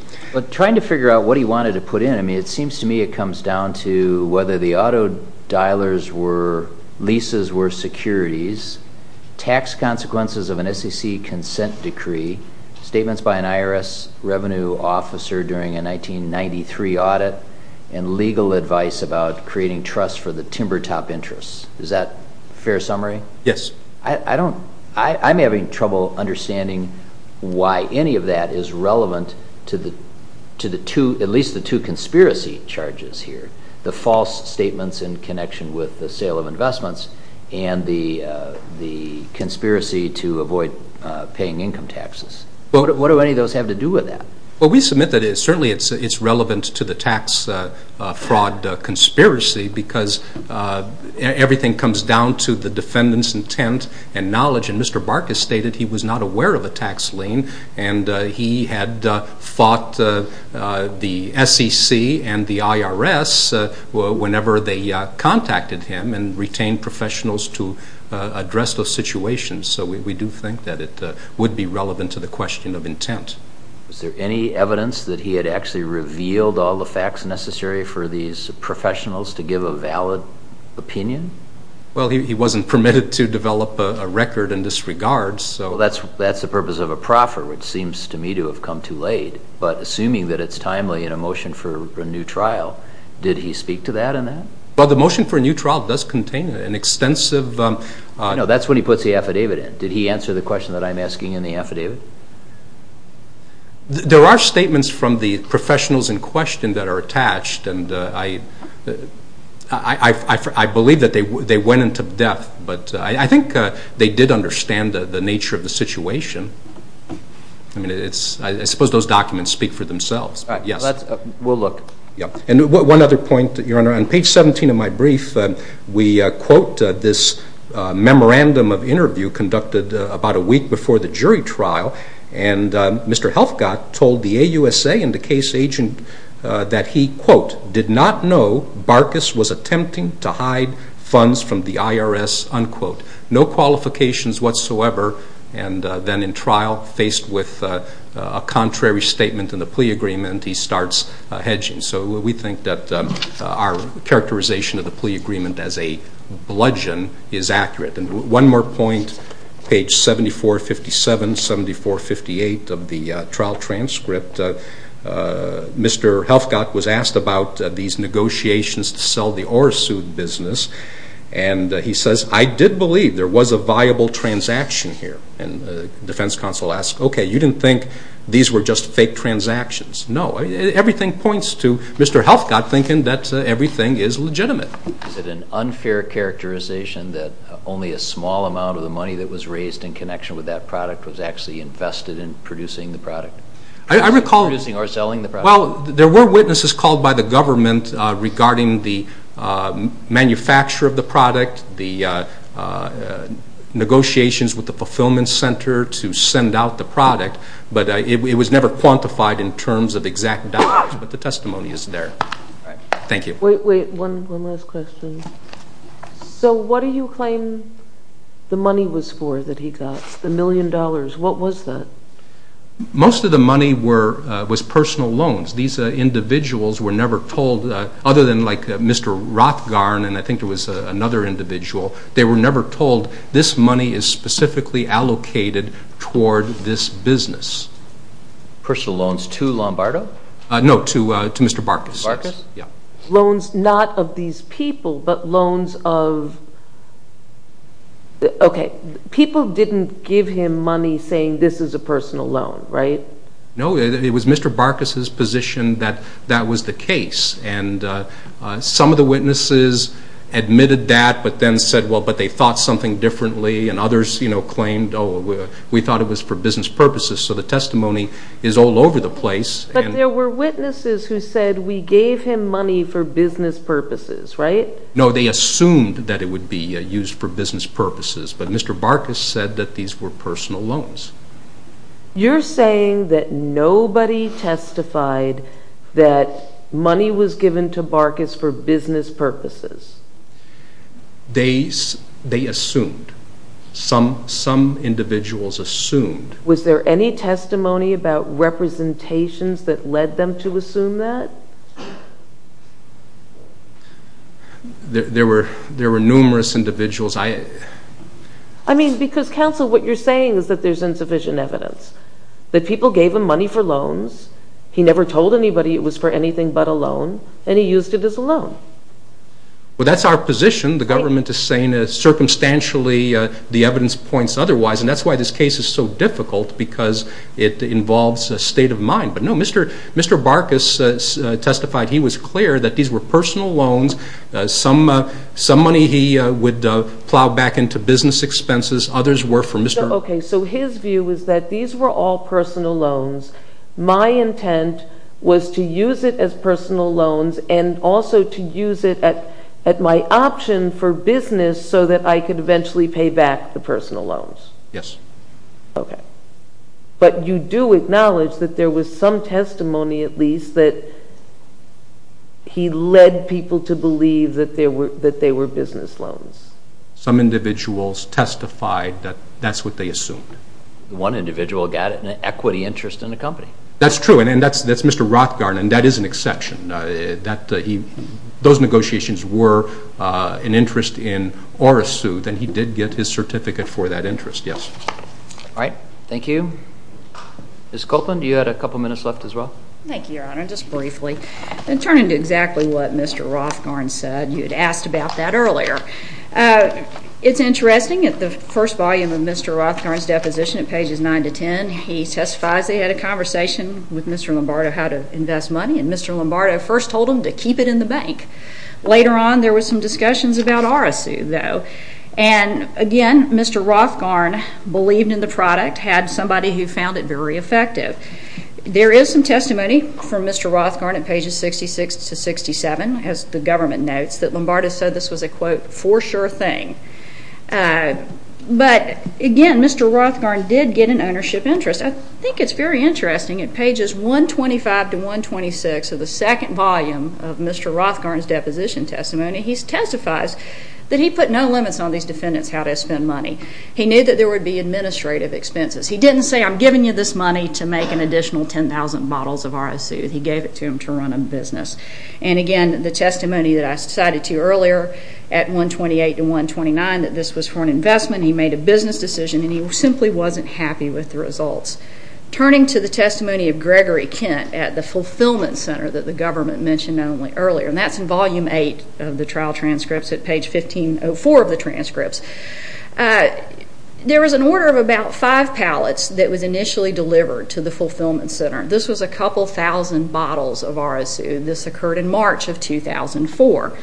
Trying to figure out what he wanted to put in, I mean, it seems to me it comes down to whether the auto dialers were leases or securities, tax consequences of an SEC consent decree, statements by an IRS revenue officer during a 1993 audit, and legal advice about creating trust for the timber top interests. Is that a fair summary? Yes. I'm having trouble understanding why any of that is relevant to at least the two conspiracy charges here, the false statements in connection with the sale of investments and the conspiracy to avoid paying income taxes. What do any of those have to do with that? Well, we submit that certainly it's relevant to the tax fraud conspiracy because everything comes down to the defendant's intent and knowledge. And Mr. Barkas stated he was not aware of a tax lien and he had fought the SEC and the IRS whenever they contacted him and retained professionals to address those situations. So we do think that it would be relevant to the question of intent. Was there any evidence that he had actually revealed all the facts necessary for these professionals to give a valid opinion? Well, he wasn't permitted to develop a record in this regard, so... Well, that's the purpose of a proffer, which seems to me to have come too late. But assuming that it's timely in a motion for a new trial, did he speak to that in that? Well, the motion for a new trial does contain an extensive... There are statements from the professionals in question that are attached, and I believe that they went into depth, but I think they did understand the nature of the situation. I mean, I suppose those documents speak for themselves. All right, we'll look. And one other point, Your Honor. On page 17 of my brief, we quote this memorandum of interview conducted about a week before the jury trial, and Mr. Helfgott told the AUSA and the case agent that he, quote, did not know Barkas was attempting to hide funds from the IRS, unquote. No qualifications whatsoever, and then in trial, faced with a contrary statement in the plea agreement, he starts hedging. So we think that our characterization of the plea agreement as a bludgeon is accurate. And one more point, page 7457, 7458 of the trial transcript. Mr. Helfgott was asked about these negotiations to sell the Orsu business, and he says, I did believe there was a viable transaction here. And the defense counsel asks, okay, you didn't think these were just fake transactions? No, everything points to Mr. Helfgott thinking that everything is legitimate. Is it an unfair characterization that only a small amount of the money that was raised in connection with that product was actually invested in producing the product? I recall – Producing or selling the product? Well, there were witnesses called by the government regarding the manufacture of the product, the negotiations with the fulfillment center to send out the product, but it was never quantified in terms of exact dollars, but the testimony is there. Thank you. Wait, wait, one last question. So what do you claim the money was for that he got, the million dollars? What was that? Most of the money was personal loans. These individuals were never told, other than like Mr. Rothgarn, and I think there was another individual, they were never told this money is specifically allocated toward this business. Personal loans to Lombardo? No, to Mr. Barkas. Mr. Barkas? Yeah. Loans not of these people, but loans of – okay, people didn't give him money saying this is a personal loan, right? No, it was Mr. Barkas's position that that was the case, and some of the witnesses admitted that, but then said, well, but they thought something differently, and others, you know, claimed, oh, we thought it was for business purposes, so the testimony is all over the place. But there were witnesses who said we gave him money for business purposes, right? No, they assumed that it would be used for business purposes, but Mr. Barkas said that these were personal loans. You're saying that nobody testified that money was given to Barkas for business purposes? They assumed. Some individuals assumed. Was there any testimony about representations that led them to assume that? There were numerous individuals. I mean, because, counsel, what you're saying is that there's insufficient evidence, that people gave him money for loans, he never told anybody it was for anything but a loan, and he used it as a loan. Well, that's our position. The government is saying that, circumstantially, the evidence points otherwise, and that's why this case is so difficult, because it involves a state of mind. But, no, Mr. Barkas testified he was clear that these were personal loans. Some money he would plow back into business expenses. Others were for Mr. Okay, so his view is that these were all personal loans. My intent was to use it as personal loans and also to use it at my option for business so that I could eventually pay back the personal loans. Yes. Okay. But you do acknowledge that there was some testimony, at least, that he led people to believe that they were business loans? Some individuals testified that that's what they assumed. One individual got an equity interest in the company. That's true, and that's Mr. Rothgarn, and that is an exception. Those negotiations were an interest in or a suit, and he did get his certificate for that interest, yes. All right. Thank you. Ms. Copeland, you had a couple minutes left as well. Thank you, Your Honor. Just briefly, turning to exactly what Mr. Rothgarn said, you had asked about that earlier. It's interesting. At the first volume of Mr. Rothgarn's deposition, at pages 9 to 10, he testifies they had a conversation with Mr. Lombardo how to invest money, and Mr. Lombardo first told him to keep it in the bank. Later on, there were some discussions about RSU, though, and, again, Mr. Rothgarn believed in the product, had somebody who found it very effective. There is some testimony from Mr. Rothgarn at pages 66 to 67, as the government notes, that Lombardo said this was a, quote, for sure thing. But, again, Mr. Rothgarn did get an ownership interest. I think it's very interesting. At pages 125 to 126 of the second volume of Mr. Rothgarn's deposition testimony, he testifies that he put no limits on these defendants how to spend money. He knew that there would be administrative expenses. He didn't say, I'm giving you this money to make an additional 10,000 bottles of RSU. He gave it to them to run a business. And, again, the testimony that I cited to you earlier at 128 to 129, that this was for an investment. He made a business decision, and he simply wasn't happy with the results. Turning to the testimony of Gregory Kent at the fulfillment center that the government mentioned earlier, and that's in volume eight of the trial transcripts at page 1504 of the transcripts, there was an order of about five pallets that was initially delivered to the fulfillment center. This was a couple thousand bottles of RSU. This occurred in March of 2004.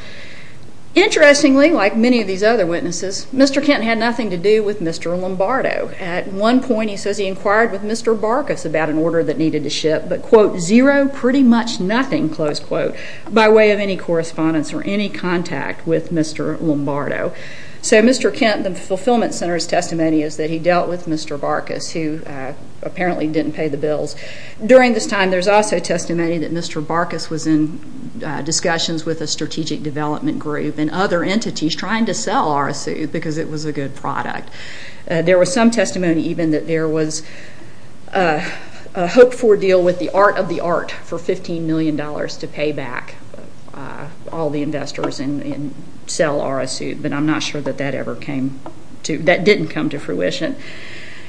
Interestingly, like many of these other witnesses, Mr. Kent had nothing to do with Mr. Lombardo. At one point, he says he inquired with Mr. Barkas about an order that needed to ship, but, quote, zero, pretty much nothing, close quote, by way of any correspondence or any contact with Mr. Lombardo. So Mr. Kent, the fulfillment center's testimony is that he dealt with Mr. Barkas, who apparently didn't pay the bills. During this time, there's also testimony that Mr. Barkas was in discussions with a strategic development group and other entities trying to sell RSU because it was a good product. There was some testimony even that there was a hoped-for deal with the art of the art for $15 million to pay back all the investors and sell RSU, but I'm not sure that that ever came to – that didn't come to fruition.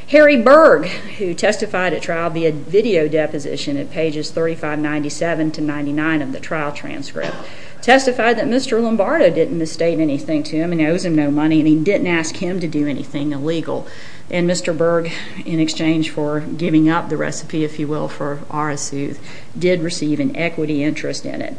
Harry Berg, who testified at trial via video deposition at pages 3597 to 99 of the trial transcript, testified that Mr. Lombardo didn't misstate anything to him and owes him no money, and he didn't ask him to do anything illegal. And Mr. Berg, in exchange for giving up the recipe, if you will, for RSU, did receive an equity interest in it.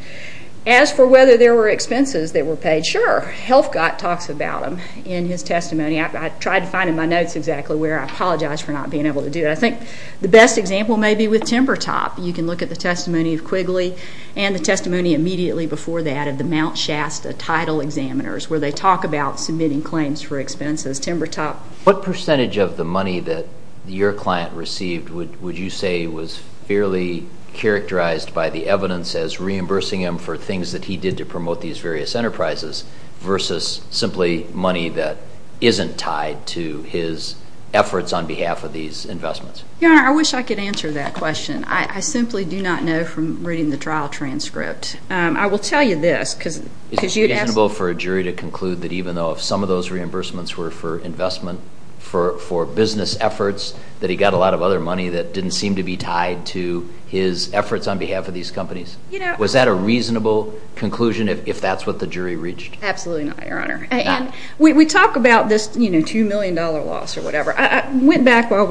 As for whether there were expenses that were paid, sure. Helfgott talks about them in his testimony. I tried to find in my notes exactly where. I apologize for not being able to do it. I think the best example may be with Timber Top. You can look at the testimony of Quigley and the testimony immediately before that of the Mount Shasta title examiners, where they talk about submitting claims for expenses. Timber Top, what percentage of the money that your client received would you say was fairly characterized by the evidence as reimbursing him for things that he did to promote these various enterprises versus simply money that isn't tied to his efforts on behalf of these investments? Your Honor, I wish I could answer that question. I simply do not know from reading the trial transcript. I will tell you this, because you'd ask me. Is it reasonable for a jury to conclude that even though some of those reimbursements were for investment, for business efforts, that he got a lot of other money that didn't seem to be tied to his efforts on behalf of these companies? Was that a reasonable conclusion if that's what the jury reached? Absolutely not, Your Honor. We talk about this $2 million loss or whatever. I went back while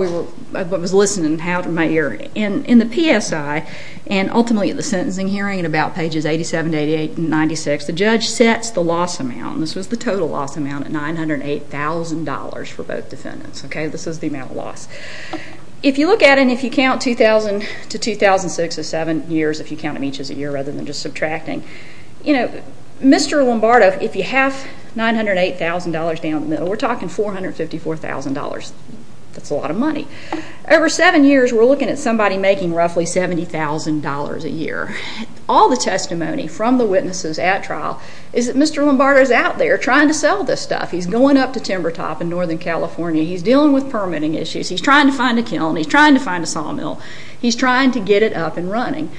I was listening and had it in my ear. In the PSI, and ultimately at the sentencing hearing at about pages 87 to 88 and 96, the judge sets the loss amount. This was the total loss amount at $908,000 for both defendants. This is the amount of loss. If you look at it and if you count 2000 to 2006 as seven years, if you count them each as a year rather than just subtracting, Mr. Lombardo, if you half $908,000 down the middle, we're talking $454,000. That's a lot of money. Over seven years, we're looking at somebody making roughly $70,000 a year. All the testimony from the witnesses at trial is that Mr. Lombardo is out there trying to sell this stuff. He's going up to Timber Top in northern California. He's dealing with permitting issues. He's trying to find a kiln. He's trying to find a sawmill. He's trying to get it up and running.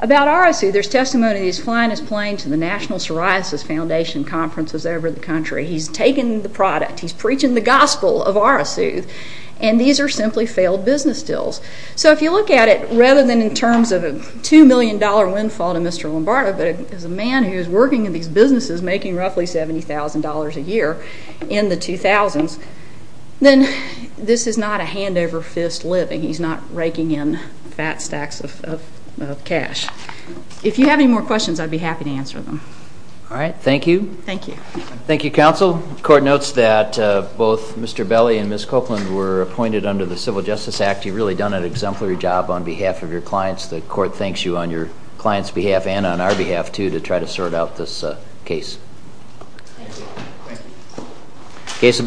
About Arasu, there's testimony that he's flying his plane to the National Psoriasis Foundation conferences over the country. He's taking the product. He's preaching the gospel of Arasu, and these are simply failed business deals. So if you look at it, rather than in terms of a $2 million windfall to Mr. Lombardo, but as a man who is working in these businesses making roughly $70,000 a year in the 2000s, then this is not a hand over fist living. He's not raking in fat stacks of cash. If you have any more questions, I'd be happy to answer them. All right. Thank you. Thank you. Thank you, counsel. The court notes that both Mr. Belli and Ms. Copeland were appointed under the Civil Justice Act. You've really done an exemplary job on behalf of your clients. The court thanks you on your clients' behalf and on our behalf, too, to try to sort out this case. Thank you. Thank you.